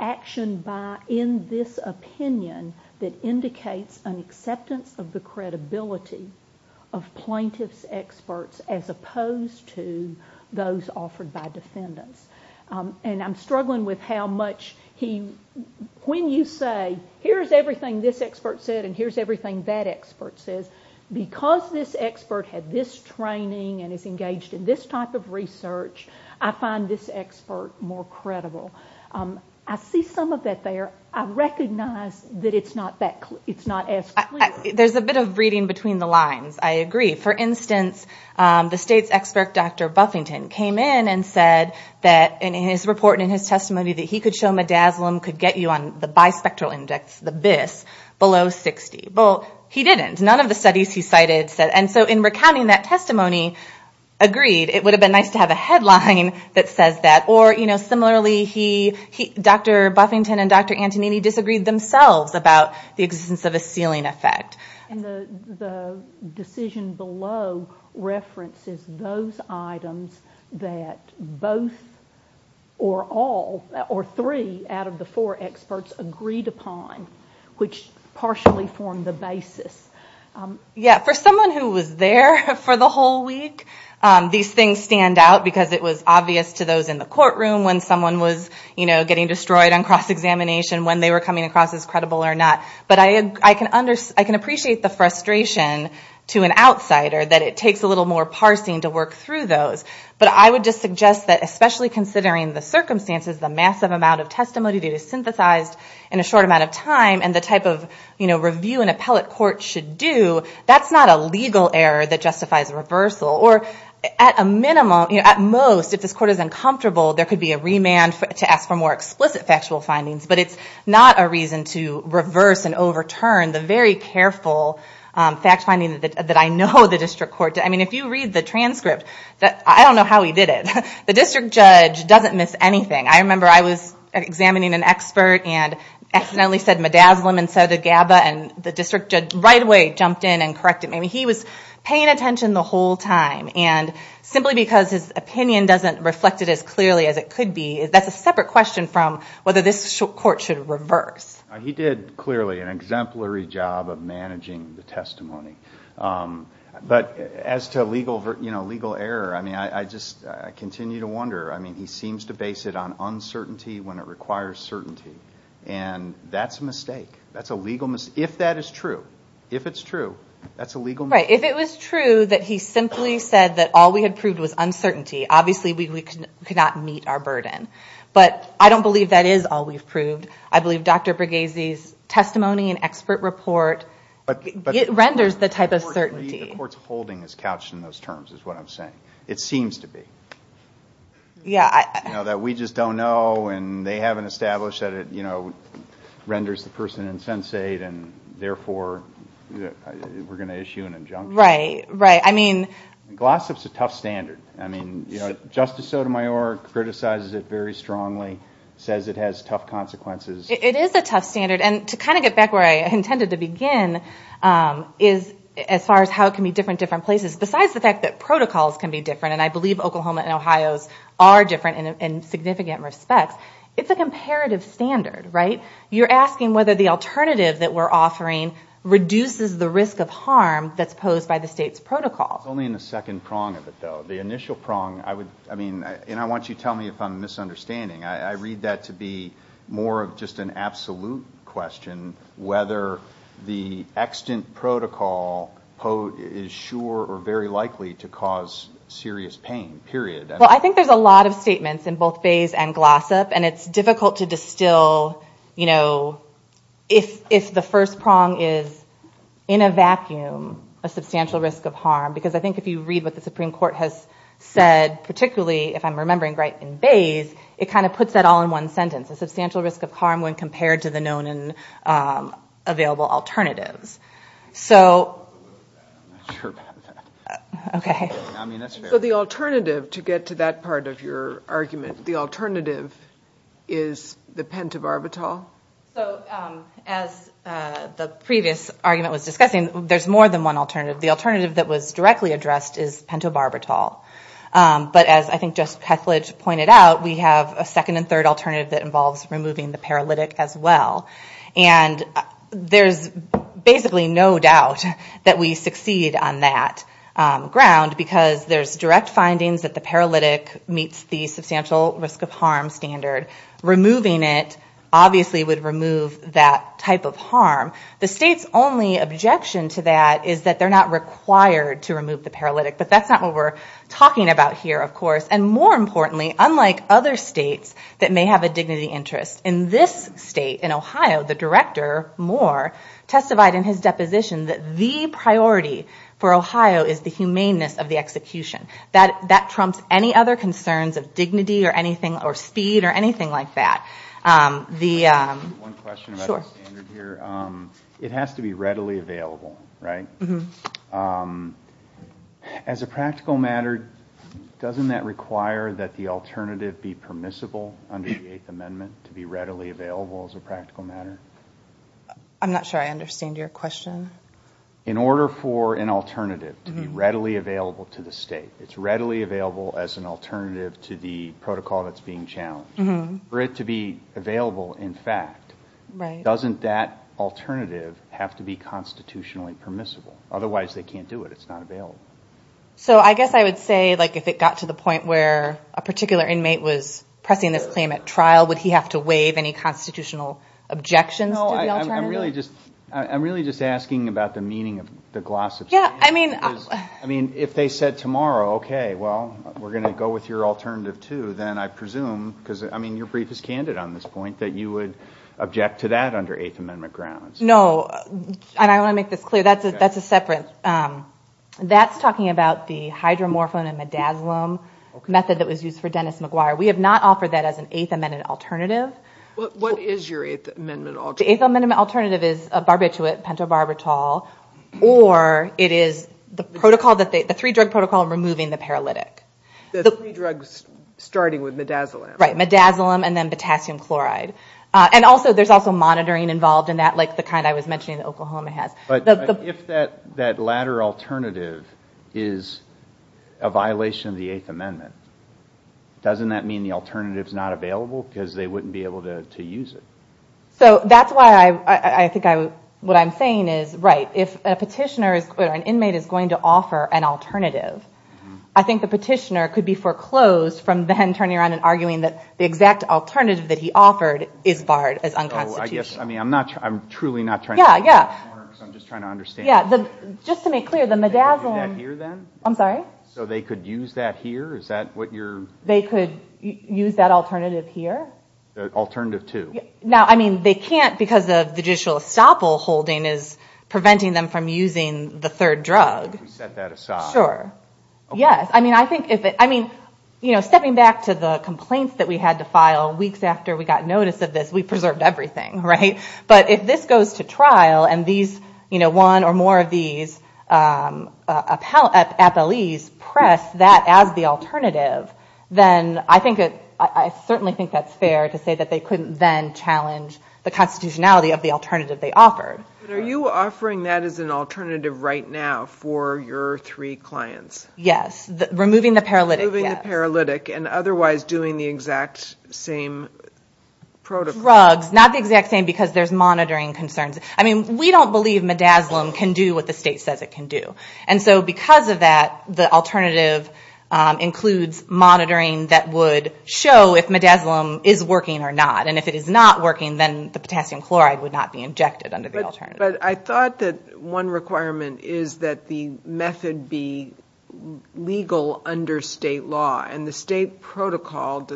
action in this opinion that indicates an acceptance of the credibility of plaintiff's experts as opposed to those offered by defendants. And I'm struggling with how much when you say here's everything this expert said and here's everything that expert said, because this expert had this training and is engaged in this type of research, I find this expert more credible. I see some of that there. I recognize that it's not as clear. There's a bit of reading between the lines. I agree. For instance, the state's expert, Dr. Buffington, came in and said that in his report and in his testimony that he could show midazolam could get you on the bispectral index, the BIS, below 60. Well, he didn't. None of the studies he cited said. And so in recounting that testimony, agreed, it would have been nice to have a headline that says that. Or, you know, similarly, Dr. Buffington and Dr. Antonini disagreed themselves about the existence of a ceiling effect. And the decision below references those items that both or all or three out of the four experts agreed upon, which partially formed the basis. Yeah, for someone who was there for the whole week, these things stand out because it was obvious to those in the courtroom when someone was, you know, getting destroyed on cross-examination when they were coming across as credible or not. But I can appreciate the frustration to an outsider that it takes a little more parsing to work through those. But I would just suggest that especially considering the circumstances, the massive amount of testimony that is synthesized in a short amount of time and the type of, you know, review an appellate court should do, that's not a legal error that justifies reversal. Or at a minimum, at most, if this court is uncomfortable, there could be a remand to ask for more explicit factual findings. But it's not a reason to reverse and overturn the very careful fact finding that I know the district court did. I mean, if you read the transcript, I don't know how he did it. The district judge doesn't miss anything. I remember I was examining an expert and accidentally said midazolam instead of gabba, and the district judge right away jumped in and corrected me. I mean, he was paying attention the whole time. And simply because his opinion doesn't reflect it as clearly as it could be, that's a separate question from whether this court should reverse. He did clearly an exemplary job of managing the testimony. But as to legal error, I mean, I just continue to wonder. I mean, he seems to base it on uncertainty when it requires certainty. And that's a mistake. That's a legal mistake. If that is true, if it's true, that's a legal mistake. Right. If it was true that he simply said that all we had proved was uncertainty, obviously we cannot meet our burden. But I don't believe that is all we've proved. I believe Dr. Bregezi's testimony and expert report renders the type of certainty. The court's holding is couched in those terms is what I'm saying. It seems to be. Yeah. You know, that we just don't know and they haven't established that it, you know, renders the person insensate and, therefore, we're going to issue an injunction. Right, right. I mean. Glossop's a tough standard. I mean, you know, Justice Sotomayor criticizes it very strongly, says it has tough consequences. It is a tough standard. And to kind of get back where I intended to begin is as far as how it can be different in different places. Besides the fact that protocols can be different, and I believe Oklahoma and Ohio are different in significant respect, it's a comparative standard, right? You're asking whether the alternative that we're offering reduces the risk of harm that's posed by the state's protocols. It's only in the second prong of it, though. The initial prong, I mean, and I want you to tell me if I'm misunderstanding. I read that to be more of just an absolute question, whether the extant protocol is sure or very likely to cause serious pain, period. Well, I think there's a lot of statements in both Bayes and Glossop, and it's difficult to distill, you know, if the first prong is in a vacuum, a substantial risk of harm, because I think if you read what the Supreme Court has said, particularly if I'm remembering right in Bayes, it kind of puts it all in one sentence, a substantial risk of harm when compared to the known and available alternatives. So the alternative, to get to that part of your argument, the alternative is the pentobarbital? So as the previous argument was discussing, there's more than one alternative. The alternative that was directly addressed is pentobarbital. But as I think just Heathledge pointed out, we have a second and third alternative that involves removing the paralytic as well. And there's basically no doubt that we succeed on that ground, because there's direct findings that the paralytic meets the substantial risk of harm standard. Removing it obviously would remove that type of harm. The state's only objection to that is that they're not required to remove the paralytic, but that's not what we're talking about here, of course. And more importantly, unlike other states that may have a dignity interest, in this state, in Ohio, the director, Moore, testified in his deposition that the priority for Ohio is the humanness of the execution. That trumps any other concerns of dignity or anything or speed or anything like that. One question about the standard here. It has to be readily available, right? As a practical matter, doesn't that require that the alternative be permissible under the Eighth Amendment to be readily available as a practical matter? I'm not sure I understand your question. In order for an alternative to be readily available to the state, it's readily available as an alternative to the protocol that's being challenged. For it to be available in fact, doesn't that alternative have to be constitutionally permissible? Otherwise, they can't do it. It's not available. So I guess I would say if it got to the point where a particular inmate was pressing this claim at trial, would he have to waive any constitutional objection to the alternative? I'm really just asking about the meaning of the glossification. If they said tomorrow, okay, well, we're going to go with your alternative too, then I presume, because your brief is candid on this point, that you would object to that under Eighth Amendment grounds. No, and I want to make this clear. That's a separate. That's talking about the hydromorphone and midazolam method that was used for Dennis McGuire. We have not offered that as an Eighth Amendment alternative. What is your Eighth Amendment alternative? The Eighth Amendment alternative is a barbiturate pentobarbital, or it is the three-drug protocol removing the paralytic. So three drugs starting with midazolam. Right, midazolam and then potassium chloride. And also, there's also monitoring involved in that, like the kind I was mentioning Oklahoma has. But if that latter alternative is a violation of the Eighth Amendment, doesn't that mean the alternative is not available because they wouldn't be able to use it? So that's why I think what I'm saying is, right, if a petitioner or an inmate is going to offer an alternative, I think the petitioner could be foreclosed from then turning around and arguing that the exact alternative that he offered is barred as unconstitutional. So I guess, I mean, I'm not, I'm truly not trying to get more, I'm just trying to understand. Just to make clear, the midazolam. I'm sorry? So they could use that here? Is that what you're? They could use that alternative here? Alternative to? Now, I mean, they can't because the judicial estoppel holding is preventing them from using the third drug. You can set that aside. Sure. Yes. I mean, I think, I mean, you know, stepping back to the complaints that we had to file weeks after we got notice of this, we preserved everything, right? But if this goes to trial and these, you know, one or more of these appellees press that as the alternative, then I think it, I certainly think that's fair to say that they couldn't then challenge the constitutionality of the alternative they offered. Are you offering that as an alternative right now for your three clients? Yes. Removing the paralytic. Removing the paralytic and otherwise doing the exact same protocol. Drugs, not the exact same because there's monitoring concerns. I mean, we don't believe midazolam can do what the state says it can do. And so because of that, the alternative includes monitoring that would show if midazolam is working or not. And if it is not working, then the potassium chloride would not be injected under the alternative. But I thought that one requirement is that the method be legal under state law. And the state protocol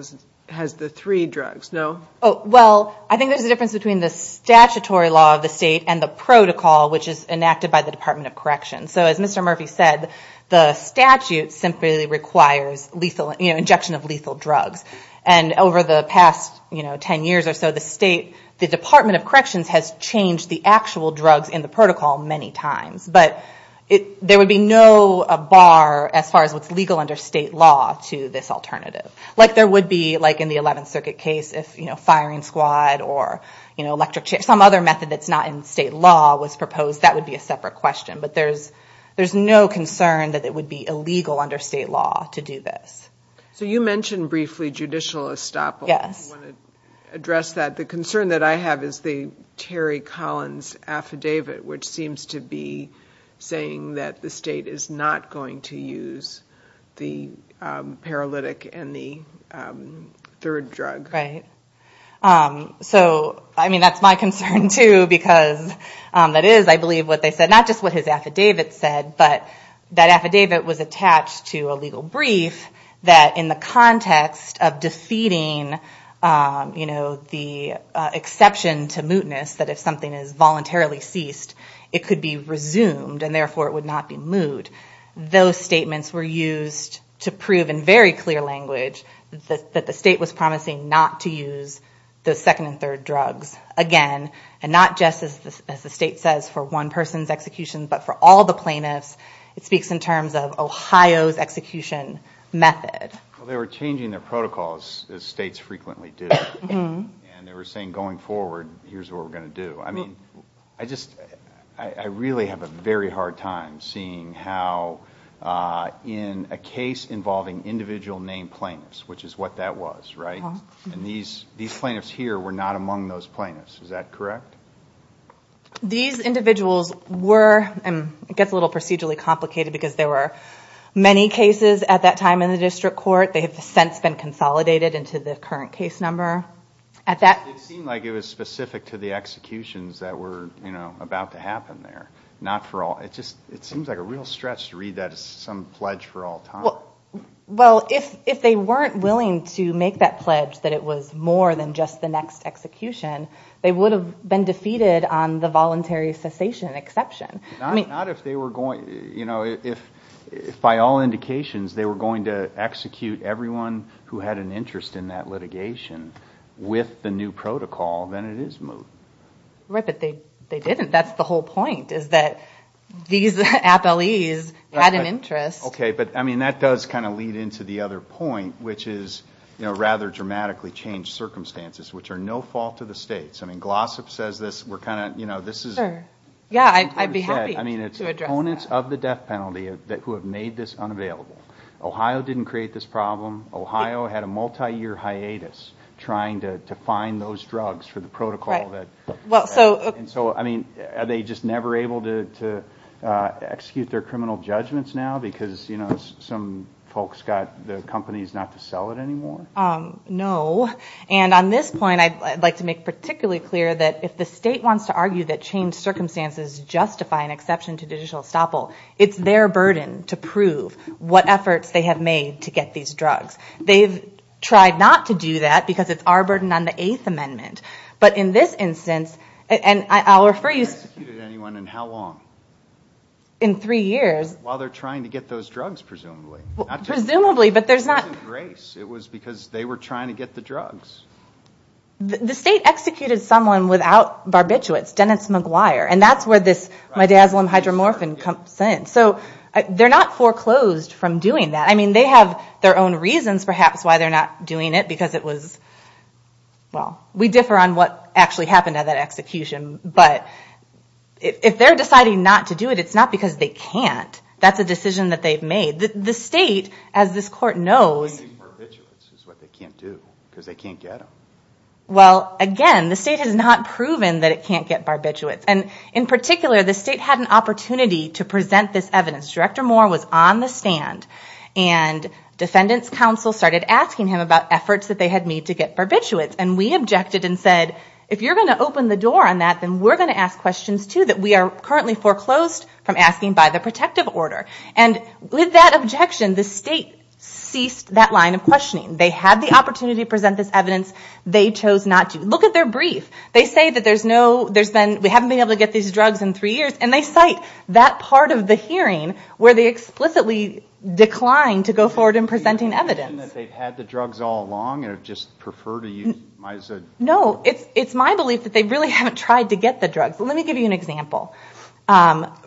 has the three drugs, no? Well, I think there's a difference between the statutory law of the state and the protocol, which is enacted by the Department of Corrections. So as Mr. Murphy said, the statute simply requires lethal, you know, injection of lethal drugs. And over the past, you know, 10 years or so, the state, the Department of Corrections has changed the actual drugs in the protocol many times. But there would be no bar as far as what's legal under state law to this alternative. Like there would be, like in the 11th Circuit case, if, you know, firing squad or, you know, electric chair, some other method that's not in state law was proposed, that would be a separate question. But there's no concern that it would be illegal under state law to do this. So you mentioned briefly judicial estoppel. Yes. I want to address that. The concern that I have is the Terry Collins affidavit, which seems to be saying that the state is not going to use the paralytic and the third drug. Right. So, I mean, that's my concern, too, because that is, I believe, what they said, not just what his affidavit said, but that affidavit was attached to a legal brief that in the context of defeating, you know, the exception to mootness, that if something is voluntarily ceased, it could be resumed, and therefore it would not be moot, those statements were used to prove in very clear language that the state was promising not to use the second and third drugs again, and not just, as the state says, for one person's execution, but for all the plaintiffs. It speaks in terms of Ohio's execution method. Well, they were changing their protocols, as states frequently do, and they were saying going forward, here's what we're going to do. I mean, I just, I really have a very hard time seeing how in a case involving individual named plaintiffs, which is what that was, right, and these plaintiffs here were not among those plaintiffs. Is that correct? These individuals were, and it gets a little procedurally complicated because there were many cases at that time in the district court. They have since been consolidated into the current case number. It seemed like it was specific to the executions that were, you know, about to happen there, not for all. It just, it seems like a real stress to read that as some pledge for all time. Well, if they weren't willing to make that pledge that it was more than just the next execution, they would have been defeated on the voluntary cessation exception. Not if they were going, you know, if by all indications they were going to execute everyone who had an interest in that litigation with the new protocol, then it is moot. Right, but they didn't. That's the whole point is that these appellees had an interest. Okay, but, I mean, that does kind of lead into the other point, which is, you know, rather dramatically changed circumstances, which are no fault of the states. I mean, Glossop says this, we're kind of, you know, this is... Yeah, I'd be happy to address that. I mean, it's opponents of the death penalty who have made this unavailable. Ohio didn't create this problem. Ohio had a multi-year hiatus trying to find those drugs for the protocol that... And so, I mean, are they just never able to execute their criminal judgments now because, you know, some folks got the companies not to sell it anymore? No, and on this point, I'd like to make particularly clear that if the state wants to argue that changed circumstances justify an exception to digital estoppel, it's their burden to prove what efforts they have made to get these drugs. They've tried not to do that because it's our burden on the Eighth Amendment. But in this instance, and I'll refer you... They haven't executed anyone in how long? In three years. While they're trying to get those drugs, presumably. Presumably, but there's not... It was because they were trying to get the drugs. The state executed someone without barbiturates, Dennis McGuire, and that's where this, my dad won hydromorphin, comes in. So they're not foreclosed from doing that. I mean, they have their own reasons, perhaps, why they're not doing it because it was... Well, we differ on what actually happened at that execution, but if they're deciding not to do it, it's not because they can't. That's a decision that they've made. The state, as this court knows... Getting barbiturates is what they can't do because they can't get them. Well, again, the state has not proven that it can't get barbiturates, and in particular, the state had an opportunity to present this evidence. Director Moore was on the stand, and descendants council started asking him about efforts that they had made to get barbiturates, and we objected and said, if you're going to open the door on that, then we're going to ask questions too that we are currently foreclosed from asking by the protective order. And with that objection, the state ceased that line of questioning. They had the opportunity to present this evidence. They chose not to. Look at their brief. They say that there's no... They haven't been able to get these drugs in three years, and they cite that part of the hearing where they explicitly declined to go forward in presenting evidence. Do you believe that they've had the drugs all along and just prefer to use them? No. It's my belief that they really haven't tried to get the drugs. Let me give you an example.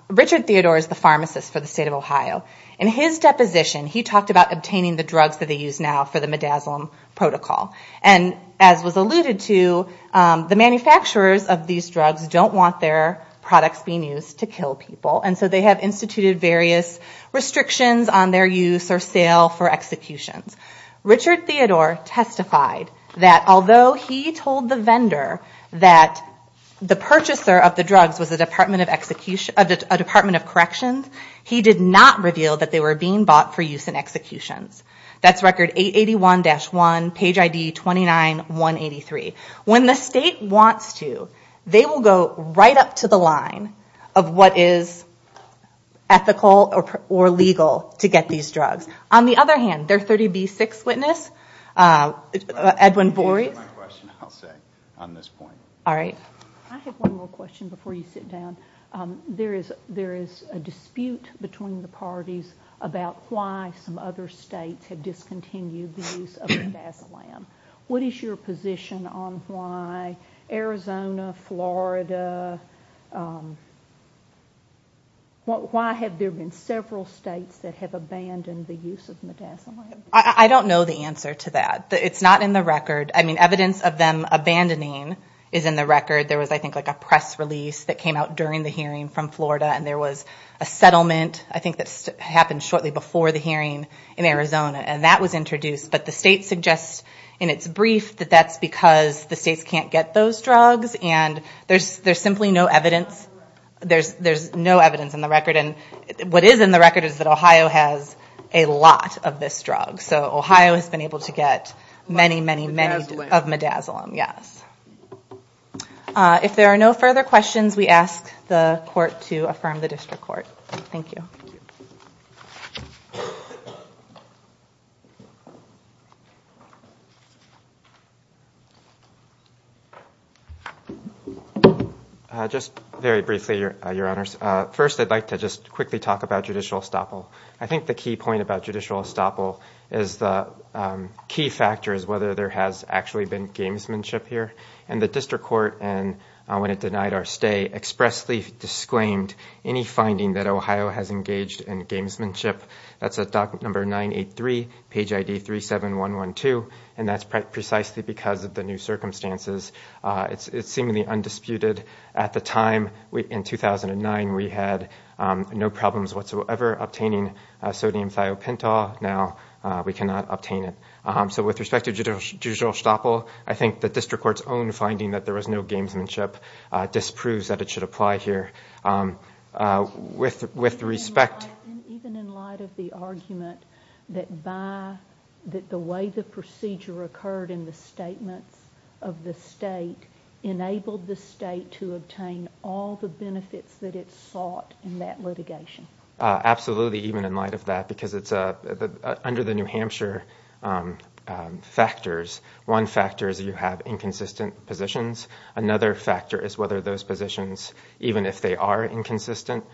Richard Theodore is the pharmacist for the state of Ohio. In his deposition, he talked about obtaining the drugs that they use now for the midazolam protocol. And as was alluded to, the manufacturers of these drugs don't want their products being used to kill people, and so they have instituted various restrictions on their use or sale for execution. Richard Theodore testified that although he told the vendor that the purchaser of the drugs was a Department of Corrections, he did not reveal that they were being bought for use in execution. That's record 881-1, page ID 29183. When the state wants to, they will go right up to the line of what is ethical or legal to get these drugs. On the other hand, their 30B6 witness, Edwin Borey... I have one more question I'll say on this point. All right. I have one more question before you sit down. There is a dispute between the parties about why some other states have discontinued the use of midazolam. What is your position on why Arizona, Florida? Why have there been several states that have abandoned the use of midazolam? I don't know the answer to that. It's not in the record. I mean, evidence of them abandoning is in the record. There was, I think, like a press release that came out during the hearing from Florida, and there was a settlement I think that happened shortly before the hearing in Arizona, and that was introduced. But the state suggests in its brief that that's because the states can't get those drugs, and there's simply no evidence. There's no evidence in the record. And what is in the record is that Ohio has a lot of this drug. So Ohio has been able to get many, many, many of midazolam, yes. If there are no further questions, we ask the court to affirm the district court. Thank you. Just very briefly, Your Honors. First, I'd like to just quickly talk about judicial estoppel. I think the key point about judicial estoppel is the key factor is whether there has actually been gamesmanship here. And the district court, when it denied our stay, expressly disclaimed any finding that Ohio has engaged in gamesmanship. That's at document number 983, page ID 37112, and that's precisely because of the new circumstances. It's seemingly undisputed. At the time, in 2009, we had no problems whatsoever obtaining sodium thiopental. Now we cannot obtain it. So with respect to judicial estoppel, I think the district court's own finding that there was no gamesmanship disproves that it should apply here. With respect- Even in light of the argument that the way the procedure occurred in the statement of the state enabled the state to obtain all the benefits that it sought in that litigation. Absolutely, even in light of that, because under the New Hampshire factors, one factor is you have inconsistent positions. Another factor is whether those positions, even if they are inconsistent,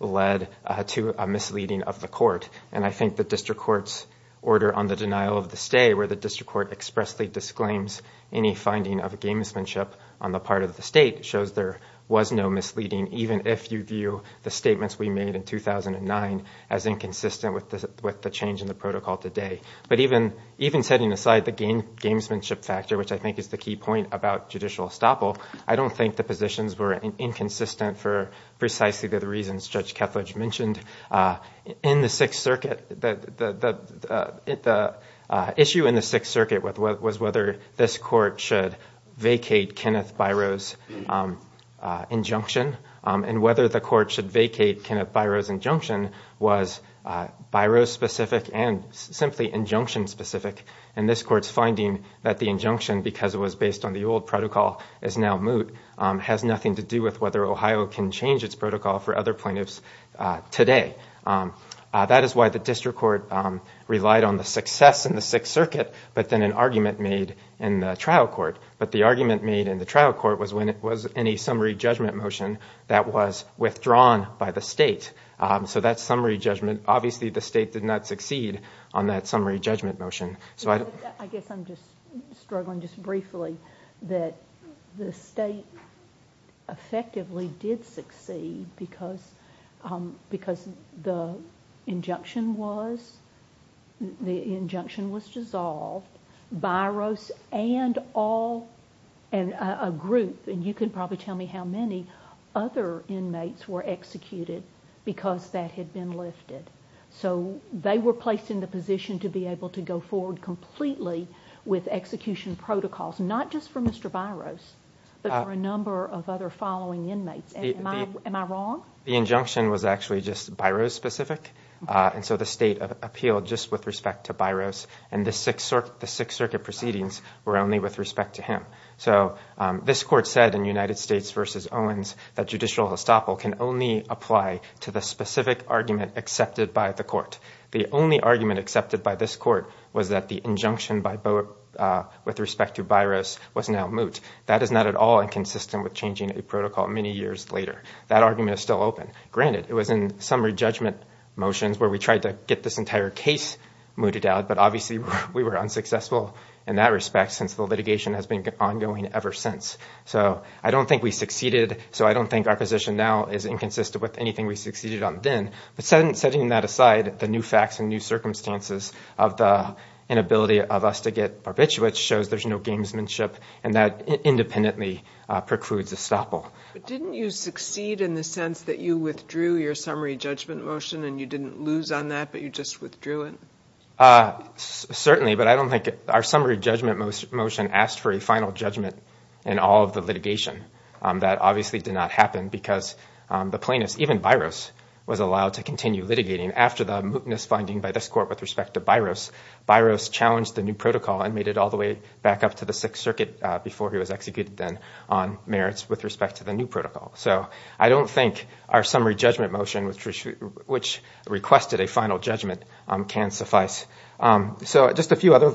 led to a misleading of the court. And I think the district court's order on the denial of the stay, where the district court expressly disclaims any finding of gamesmanship on the part of the state, shows there was no misleading, even if you view the statements we made in 2009 as inconsistent with the change in the protocol today. But even setting aside the gamesmanship factor, which I think is the key point about judicial estoppel, I don't think the positions were inconsistent for precisely the reasons Judge Kethledge mentioned. In the Sixth Circuit, the issue in the Sixth Circuit was whether this court should vacate Kenneth Biro's injunction, and whether the court should vacate Kenneth Biro's injunction was Biro-specific and simply injunction-specific. And this court's finding that the injunction, because it was based on the old protocol, is now moot, has nothing to do with whether Ohio can change its protocol for other plaintiffs today. That is why the district court relied on the success in the Sixth Circuit, but then an argument made in the trial court. But the argument made in the trial court was when it was any summary judgment motion that was withdrawn by the state. So that summary judgment, obviously the state did not succeed on that summary judgment motion. I guess I'm just struggling just briefly that the state effectively did succeed because the injunction was dissolved, Biro's and a group, and you can probably tell me how many other inmates were executed because that had been listed. So they were placed in the position to be able to go forward completely with execution protocols, not just for Mr. Biro's, but for a number of other following inmates. Am I wrong? The injunction was actually just Biro-specific, and so the state appealed just with respect to Biro's, and the Sixth Circuit proceedings were only with respect to him. So this court said in United States v. Owens that judicial estoppel can only apply to the specific argument accepted by the court. The only argument accepted by this court was that the injunction with respect to Biro's was now moot. That is not at all inconsistent with changing a protocol many years later. That argument is still open. Granted, it was in summary judgment motions where we tried to get this entire case mooted out, but obviously we were unsuccessful in that respect since litigation has been ongoing ever since. So I don't think we succeeded, so I don't think our position now is inconsistent with anything we succeeded on then. But setting that aside, the new facts and new circumstances of the inability of us to get a rich witch shows there's no gamesmanship, and that independently precludes estoppel. Didn't you succeed in the sense that you withdrew your summary judgment motion and you didn't lose on that, but you just withdrew it? Certainly, but I don't think it – our summary judgment motion asked for a final judgment in all of the litigation. That obviously did not happen because the plaintiff, even Biro's, was allowed to continue litigating. After the mootness finding by this court with respect to Biro's, Biro's challenged the new protocol and made it all the way back up to the Sixth Circuit before he was executed then on merits with respect to the new protocol. So I don't think our summary judgment motion, which requested a final judgment, can suffice. So just a few other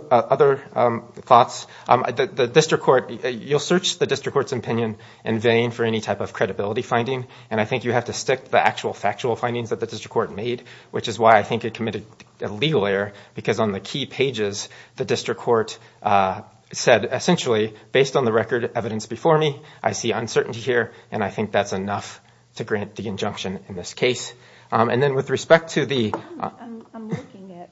thoughts. The district court – you'll search the district court's opinion in vain for any type of credibility finding, and I think you have to stick to the actual factual findings that the district court made, which is why I think it committed a legal error because on the key pages the district court said, essentially, based on the record evidence before me, I see uncertainty here, and I think that's enough to grant the injunction in this case. I'm looking at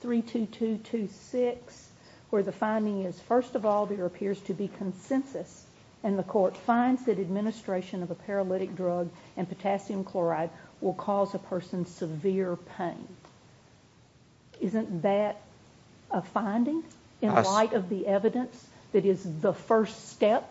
32226, where the finding is, first of all, there appears to be consensus, and the court finds that administration of a paralytic drug and potassium chloride will cause a person severe pain. Isn't that a finding in light of the evidence that is the first step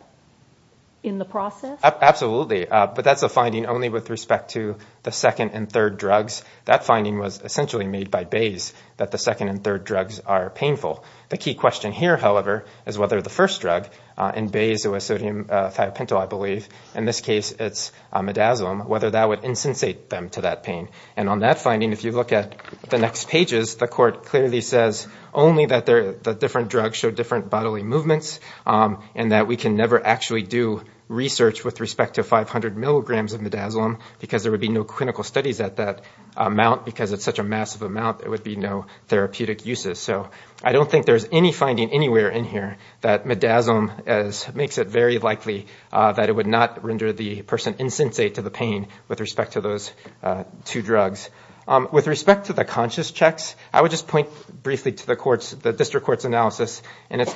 in the process? Absolutely, but that's a finding only with respect to the second and third drugs. That finding was essentially made by Bayes, that the second and third drugs are painful. The key question here, however, is whether the first drug – in Bayes, it was sodium phatopentyl, I believe. In this case, it's midazolam – whether that would insensate them to that pain. And on that finding, if you look at the next pages, the court clearly says only that the different drugs show different bodily movements and that we can never actually do research with respect to 500 milligrams of midazolam because there would be no clinical studies at that amount. Because it's such a massive amount, there would be no therapeutic uses. So I don't think there's any finding anywhere in here that midazolam makes it very likely that it would not render the person insensate to the pain with respect to those two drugs. With respect to the conscious checks, I would just point briefly to the district court's analysis and its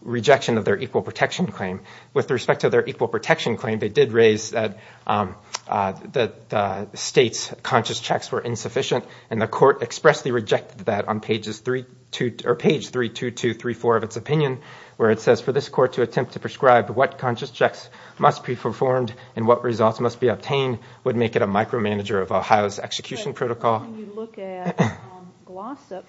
rejection of their equal protection claim. With respect to their equal protection claim, they did raise that states' conscious checks were insufficient, and the court expressly rejected that on page 32234 of its opinion, where it says, for this court to attempt to prescribe what conscious checks must be performed and what results must be obtained would make it a micromanager of Ohio's execution protocol. When you look at GLOSSIP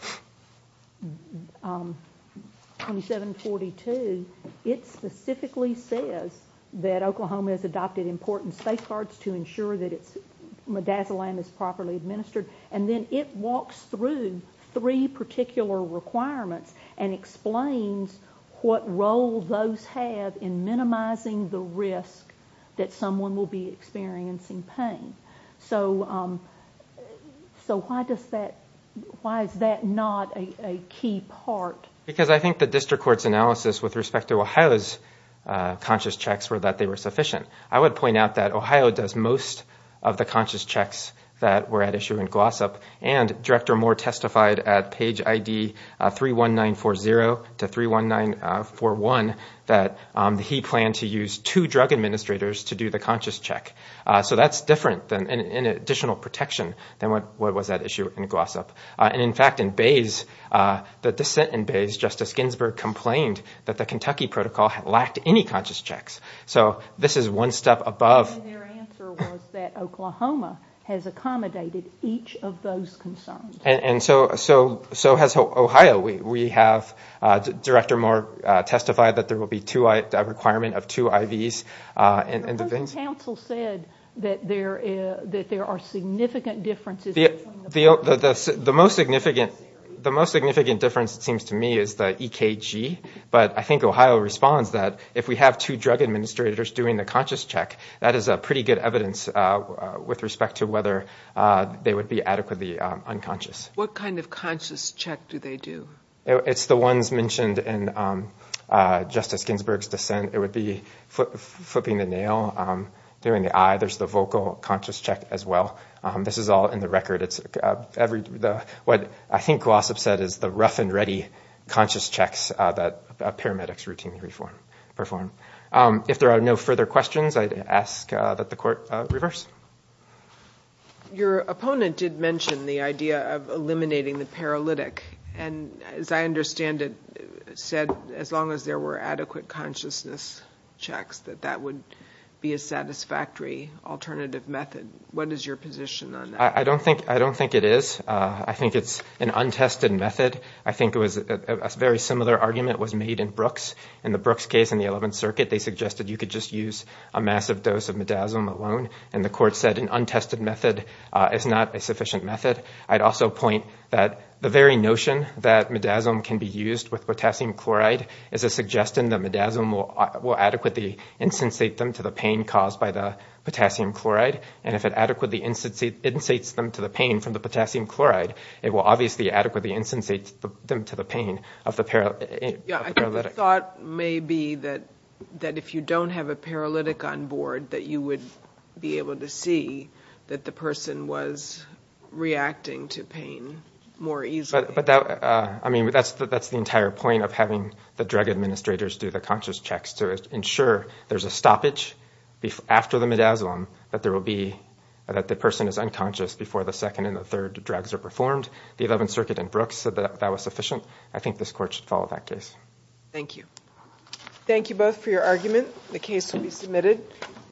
2742, it specifically says that Oklahoma has adopted important safeguards to ensure that midazolam is properly administered. And then it walks through three particular requirements and explains what role those have in minimizing the risk that someone will be experiencing pain. So why is that not a key part? Because I think the district court's analysis with respect to Ohio's conscious checks were that they were sufficient. I would point out that Ohio does most of the conscious checks that were at issue in GLOSSIP, and Director Moore testified at page ID 31940 to 31941 that he planned to use two drug administrators to do the conscious check. So that's different and additional protection than what was at issue in GLOSSIP. And in fact, in Bays, Justice Ginsburg complained that the Kentucky protocol lacked any conscious checks. So this is one step above. And their answer was that Oklahoma has accommodated each of those concerns. And so has Ohio. We have Director Moore testify that there will be a requirement of two IVs. And Ohio's counsel said that there are significant differences. The most significant difference, it seems to me, is the EKG. But I think Ohio responds that if we have two drug administrators doing the conscious check, that is pretty good evidence with respect to whether they would be adequately unconscious. What kind of conscious check do they do? It's the ones mentioned in Justice Ginsburg's dissent. It would be flipping the nail, doing the eye. There's the vocal conscious check as well. This is all in the record. What I think GLOSSIP said is the rough-and-ready conscious checks that paramedics routinely perform. If there are no further questions, I'd ask that the Court reverse. Your opponent did mention the idea of eliminating the paralytic. And, as I understand it, said as long as there were adequate consciousness checks, that that would be a satisfactory alternative method. What is your position on that? I don't think it is. I think it's an untested method. I think a very similar argument was made in Brooks. In the Brooks case in the 11th Circuit, they suggested you could just use a massive dose of midazolam alone. And the Court said an untested method is not a sufficient method. I'd also point that the very notion that midazolam can be used with potassium chloride is a suggestion that midazolam will adequately insensate them to the pain caused by the potassium chloride. And if it adequately insensates them to the pain from the potassium chloride, it will obviously adequately insensate them to the pain of the paralytic. The thought may be that if you don't have a paralytic on board, that you would be able to see that the person was reacting to pain more easily. That's the entire point of having the drug administrators do the conscious checks, to ensure there's a stoppage after the midazolam, that the person is unconscious before the second and the third drugs are performed. The 11th Circuit in Brooks said that was sufficient. I think this Court should follow that case. Thank you. Thank you both for your arguments. The case can be submitted.